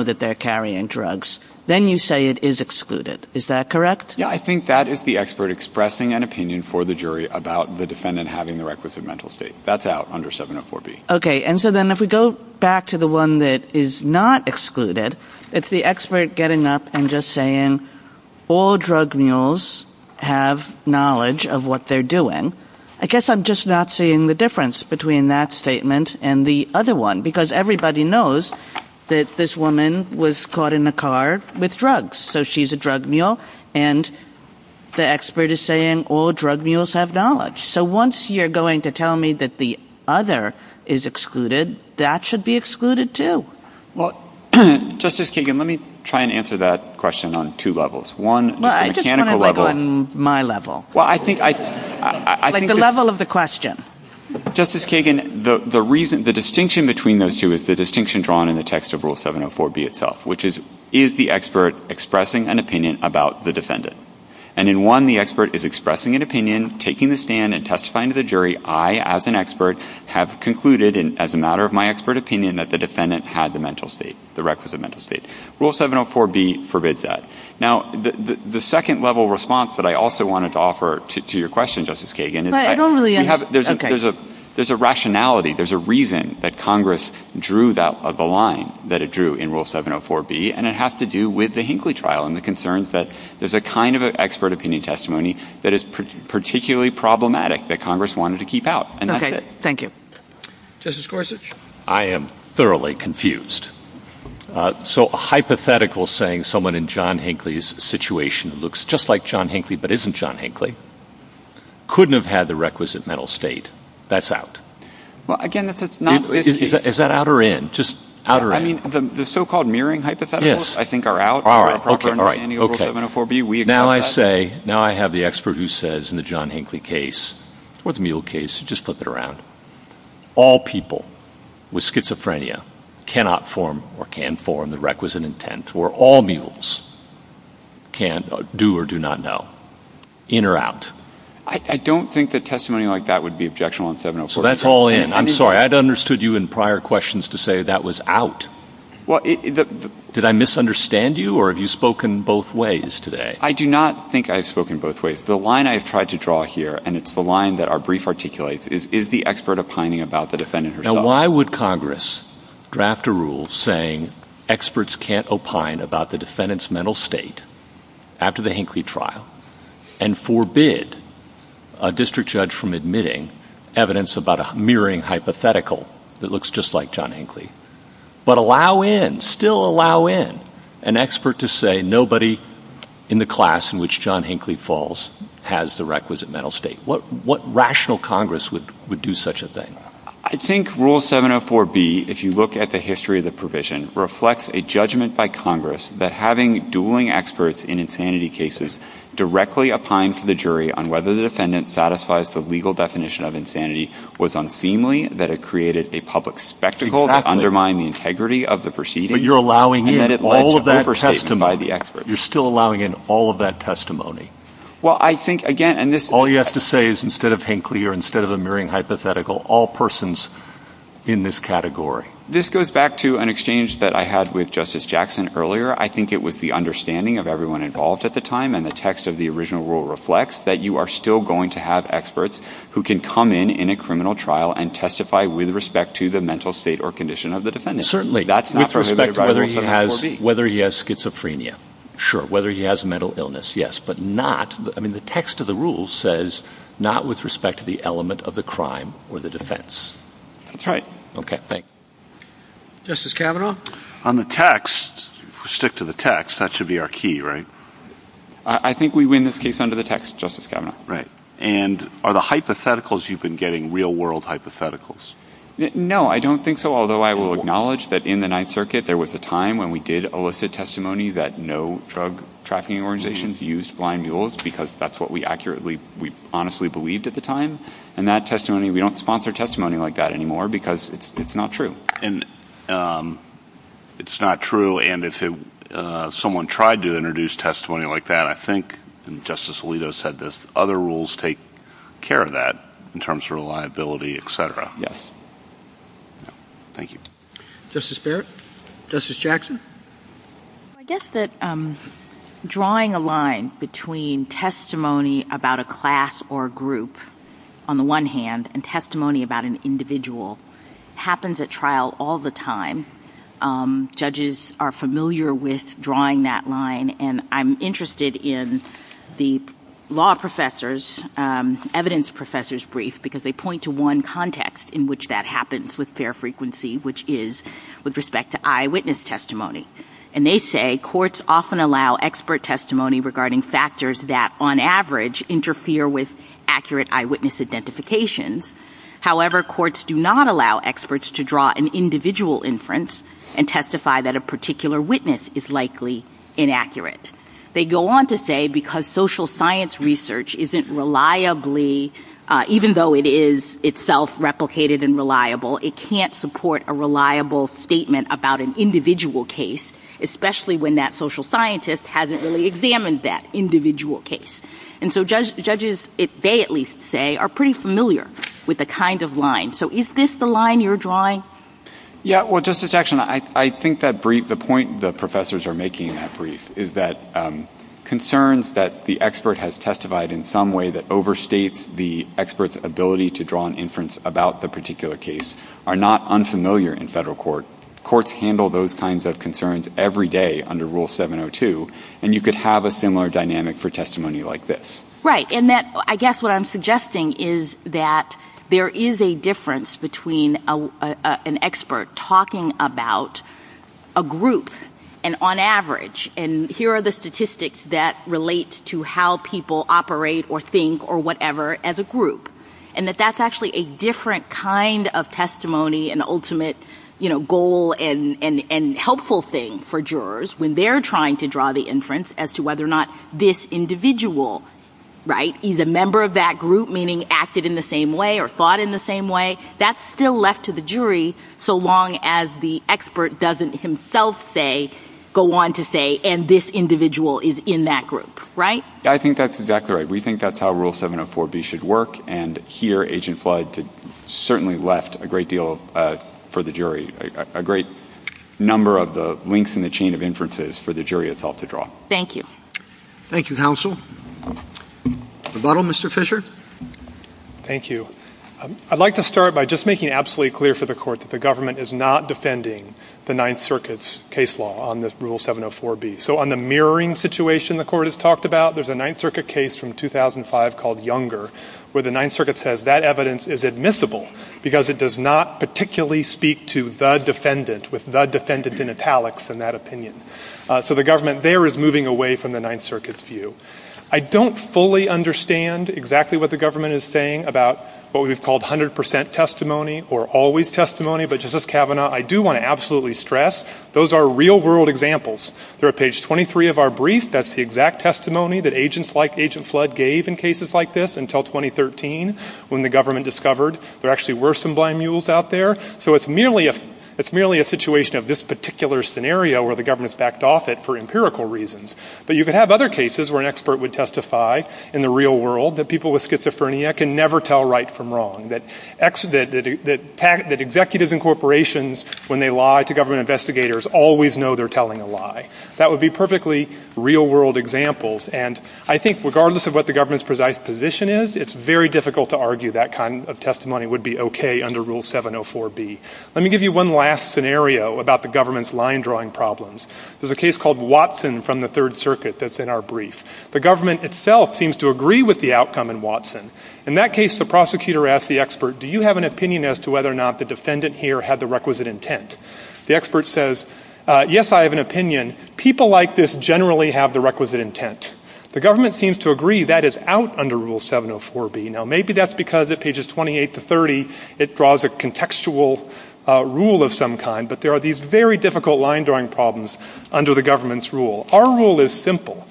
that they're carrying drugs. Then you say it is excluded. Is that correct? Yeah, I think that is the expert expressing an opinion for the jury about the defendant having the requisite mental state. That's out under 704B. Okay, and so then if we go back to the one that is not excluded, it's the expert getting up and just saying, all drug mules have knowledge of what they're doing. I guess I'm just not seeing the difference between that statement and the other one, because everybody knows that this woman was caught in a car with drugs. So she's a drug mule, and the expert is saying all drug mules have knowledge. So once you're going to tell me that the other is excluded, that should be excluded too. Well, Justice Kagan, let me try and answer that question on two levels. Well, I just want to put it on my level. Like the level of the question. Justice Kagan, the distinction between those two is the distinction drawn in the text of expressing an opinion about the defendant. And in one, the expert is expressing an opinion, taking the stand and testifying to the jury, I, as an expert, have concluded, as a matter of my expert opinion, that the defendant had the requisite mental state. Rule 704B forbids that. Now, the second level response that I also wanted to offer to your question, Justice Kagan, is that there's a rationality, there's a reason that Congress drew the line that it drew in Rule 704B, and it has to do with the Hinckley trial and the concerns that there's a kind of an expert opinion testimony that is particularly problematic that Congress wanted to keep out. And that's it. Okay. Thank you. Justice Gorsuch? I am thoroughly confused. So a hypothetical saying someone in John Hinckley's situation, who looks just like John Hinckley but isn't John Hinckley, couldn't have had the requisite mental state, that's out. Well, again, if it's not... Is that out or in? Just out or in? I mean, the so-called mirroring hypotheticals, I think, are out. All right, okay, all right. Now I say, now I have the expert who says in the John Hinckley case, or the Mule case, just flip it around, all people with schizophrenia cannot form or can form the requisite intent or all Mules can do or do not know, in or out. I don't think a testimony like that would be objectionable in 704B. So that's all in. I'm sorry, I'd understood you in prior questions to say that was out. Did I misunderstand you or have you spoken both ways today? I do not think I've spoken both ways. The line I've tried to draw here, and it's the line that our brief articulates, is the expert opining about the defendant herself. Now why would Congress draft a rule saying experts can't opine about the defendant's mental state after the Hinckley trial and forbid a district judge from admitting evidence about a mirroring hypothetical that looks just like John Hinckley? But allow in, still allow in, an expert to say nobody in the class in which John Hinckley falls has the requisite mental state. What rational Congress would do such a thing? I think Rule 704B, if you look at the history of the provision, reflects a judgment by Congress that having dueling experts in insanity cases directly opine to the jury on whether the defendant satisfies the legal definition of insanity was unseemly, that it created a public spectacle, that undermined the integrity of the proceedings. But you're allowing in all of that testimony. You're still allowing in all of that testimony. Well, I think, again, and this... All you have to say is instead of Hinckley or instead of a mirroring hypothetical, all persons in this category. This goes back to an exchange that I had with Justice Jackson earlier. I think it was the understanding of everyone involved at the time and the text of the original rule reflects that you are still going to have experts who can come in in a criminal trial and testify with respect to the mental state or condition of the defendant. Certainly. With respect to whether he has schizophrenia. Sure. Whether he has mental illness. Yes. But not... I mean, the text of the rule says not with respect to the element of the crime or the defence. That's right. OK, thanks. Justice Kavanaugh? On the text, stick to the text. That should be our key, right? I think we win this case under the text, Justice Kavanaugh. Right. And are the hypotheticals you've been getting real-world hypotheticals? No, I don't think so. Although I will acknowledge that in the Ninth Circuit there was a time when we did elicit testimony that no drug-tracking organizations used blind mules because that's what we accurately... we honestly believed at the time. And that testimony... We don't sponsor testimony like that anymore because it's not true. And it's not true. And if someone tried to introduce testimony like that, I think, and Justice Alito said this, other rules take care of that in terms of reliability, etc. Yes. Thank you. Justice Barrett? Justice Jackson? I guess that drawing a line between testimony about a class or a group, on the one hand, and testimony about an individual happens at trial all the time. Judges are familiar with drawing that line, and I'm interested in the law professors' evidence professors' brief because they point to one context in which that happens with fair frequency, which is with respect to eyewitness testimony. And they say courts often allow expert testimony regarding factors that, on average, interfere with accurate eyewitness identifications. However, courts do not allow experts to draw an individual inference and testify that a particular witness is likely inaccurate. They go on to say because social science research isn't reliably, even though it is itself replicated and reliable, it can't support a reliable statement about an individual case, especially when that social scientist hasn't really examined that individual case. And so judges, they at least say, are pretty familiar with the kind of line. So is this the line you're drawing? Yeah, well, Justice Action, I think the point the professors are making in that brief is that concerns that the expert has testified in some way that overstates the expert's ability to draw an inference about the particular case are not unfamiliar in federal court. Courts handle those kinds of concerns every day under Rule 702, and you could have a similar dynamic for testimony like this. Right, and I guess what I'm suggesting is that there is a difference between an expert talking about a group and on average, and here are the statistics that relate to how people operate or think or whatever as a group, and that that's actually a different kind of testimony and ultimate, you know, goal and helpful thing for jurors when they're trying to draw the inference as to whether or not this individual, right, is a member of that group, meaning acted in the same way or thought in the same way. That's still left to the jury so long as the expert doesn't himself say, go on to say, and this individual is in that group, right? I think that's exactly right. We think that's how Rule 704B should work, and here, Agent Floyd certainly left a great deal for the jury, a great number of the links in the chain of inferences for the jury itself to draw. Thank you. Thank you, counsel. The bottle, Mr. Fisher? Thank you. I'd like to start by just making absolutely clear for the court that the government is not defending the Ninth Circuit's case law on this Rule 704B. So on the mirroring situation the court has talked about, there's a Ninth Circuit case from 2005 called Younger where the Ninth Circuit says that evidence is admissible because it does not particularly speak to the defendant with the defendant in italics in that opinion. So the government there is moving away from the Ninth Circuit's view. I don't fully understand exactly what the government is saying about what we've called 100% testimony or always testimony, but Justice Kavanaugh, I do want to absolutely stress those are real-world examples. They're at page 23 of our brief. That's the exact testimony that agents like Agent Floyd gave in cases like this until 2013 when the government discovered there actually were some blind mules out there. So it's merely a situation of this particular scenario where the government's backed off it for empirical reasons. But you could have other cases where an expert would testify in the real world that people with schizophrenia can never tell right from wrong, that executives in corporations, when they lie to government investigators, always know they're telling a lie. That would be perfectly real-world examples. And I think regardless of what the government's precise position is, it's very difficult to argue that kind of testimony would be okay under Rule 704B. Let me give you one last scenario about the government's line-drawing problems. There's a case called Watson from the Third Circuit that's in our brief. The government itself seems to agree with the outcome in Watson. In that case, the prosecutor asks the expert, do you have an opinion as to whether or not the defendant here had the requisite intent? The expert says, yes, I have an opinion. People like this generally have the requisite intent. The government seems to agree that is out under Rule 704B. Now, maybe that's because at pages 28 to 30 it draws a contextual rule of some kind, but there are these very difficult line-drawing problems under the government's rule. Our rule is simple.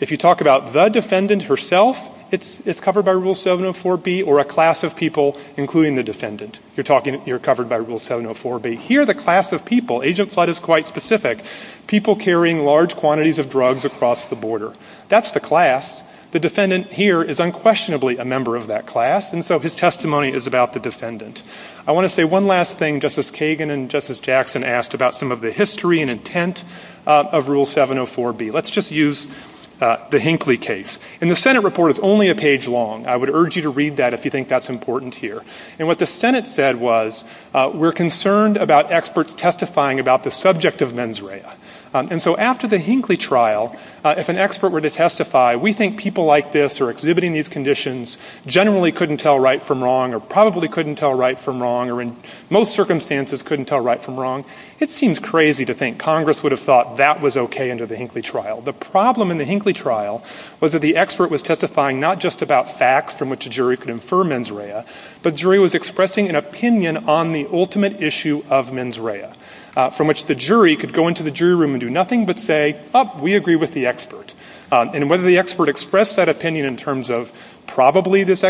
If you talk about the defendant herself, it's covered by Rule 704B or a class of people, including the defendant. You're talking... you're covered by Rule 704B. Here, the class of people... Agent Flood is quite specific. People carrying large quantities of drugs across the border. That's the class. The defendant here is unquestionably a member of that class, and so his testimony is about the defendant. I want to say one last thing. Justice Kagan and Justice Jackson asked about some of the history and intent of Rule 704B. Let's just use the Hinckley case. And the Senate report is only a page long. I would urge you to read that if you think that's important here. And what the Senate said was, we're concerned about experts testifying about the subject of mens rea. And so after the Hinckley trial, if an expert were to testify, we think people like this or exhibiting these conditions generally couldn't tell right from wrong or probably couldn't tell right from wrong or in most circumstances couldn't tell right from wrong. It seems crazy to think Congress would have thought that was OK under the Hinckley trial. The problem in the Hinckley trial was that the expert was testifying not just about facts from which a jury could infer mens rea, but jury was expressing an opinion on the ultimate issue of mens rea, from which the jury could go into the jury room and do nothing but say, oh, we agree with the expert. And whether the expert expressed that opinion in terms of probably this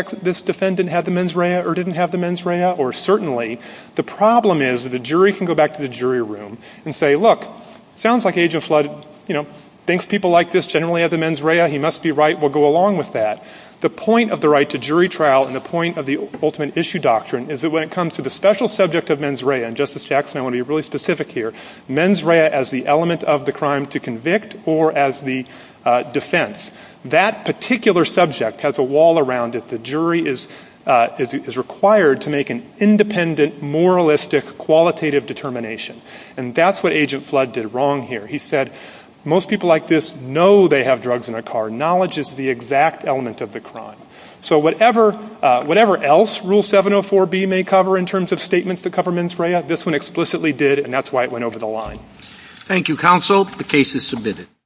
defendant had the mens rea or didn't have the mens rea or certainly, the problem is that the jury can go back to the jury room and say, look, sounds like Agent Flood, you know, thinks people like this generally have the mens rea. He must be right. We'll go along with that. The point of the right to jury trial and the point of the ultimate issue doctrine is that when it comes to the special subject of mens rea, and Justice Jackson, I want to be really specific here, mens rea as the element of the crime to convict or as the defense, that particular subject has a wall around it. The jury is required to make an independent, moralistic, qualitative determination. And that's what Agent Flood did wrong here. He said, most people like this know they have drugs in their car. Knowledge is the exact element of the crime. So whatever else Rule 704B may cover in terms of statements that cover mens rea, this one explicitly did, and that's why it went over the line. Thank you, counsel. The case is submitted.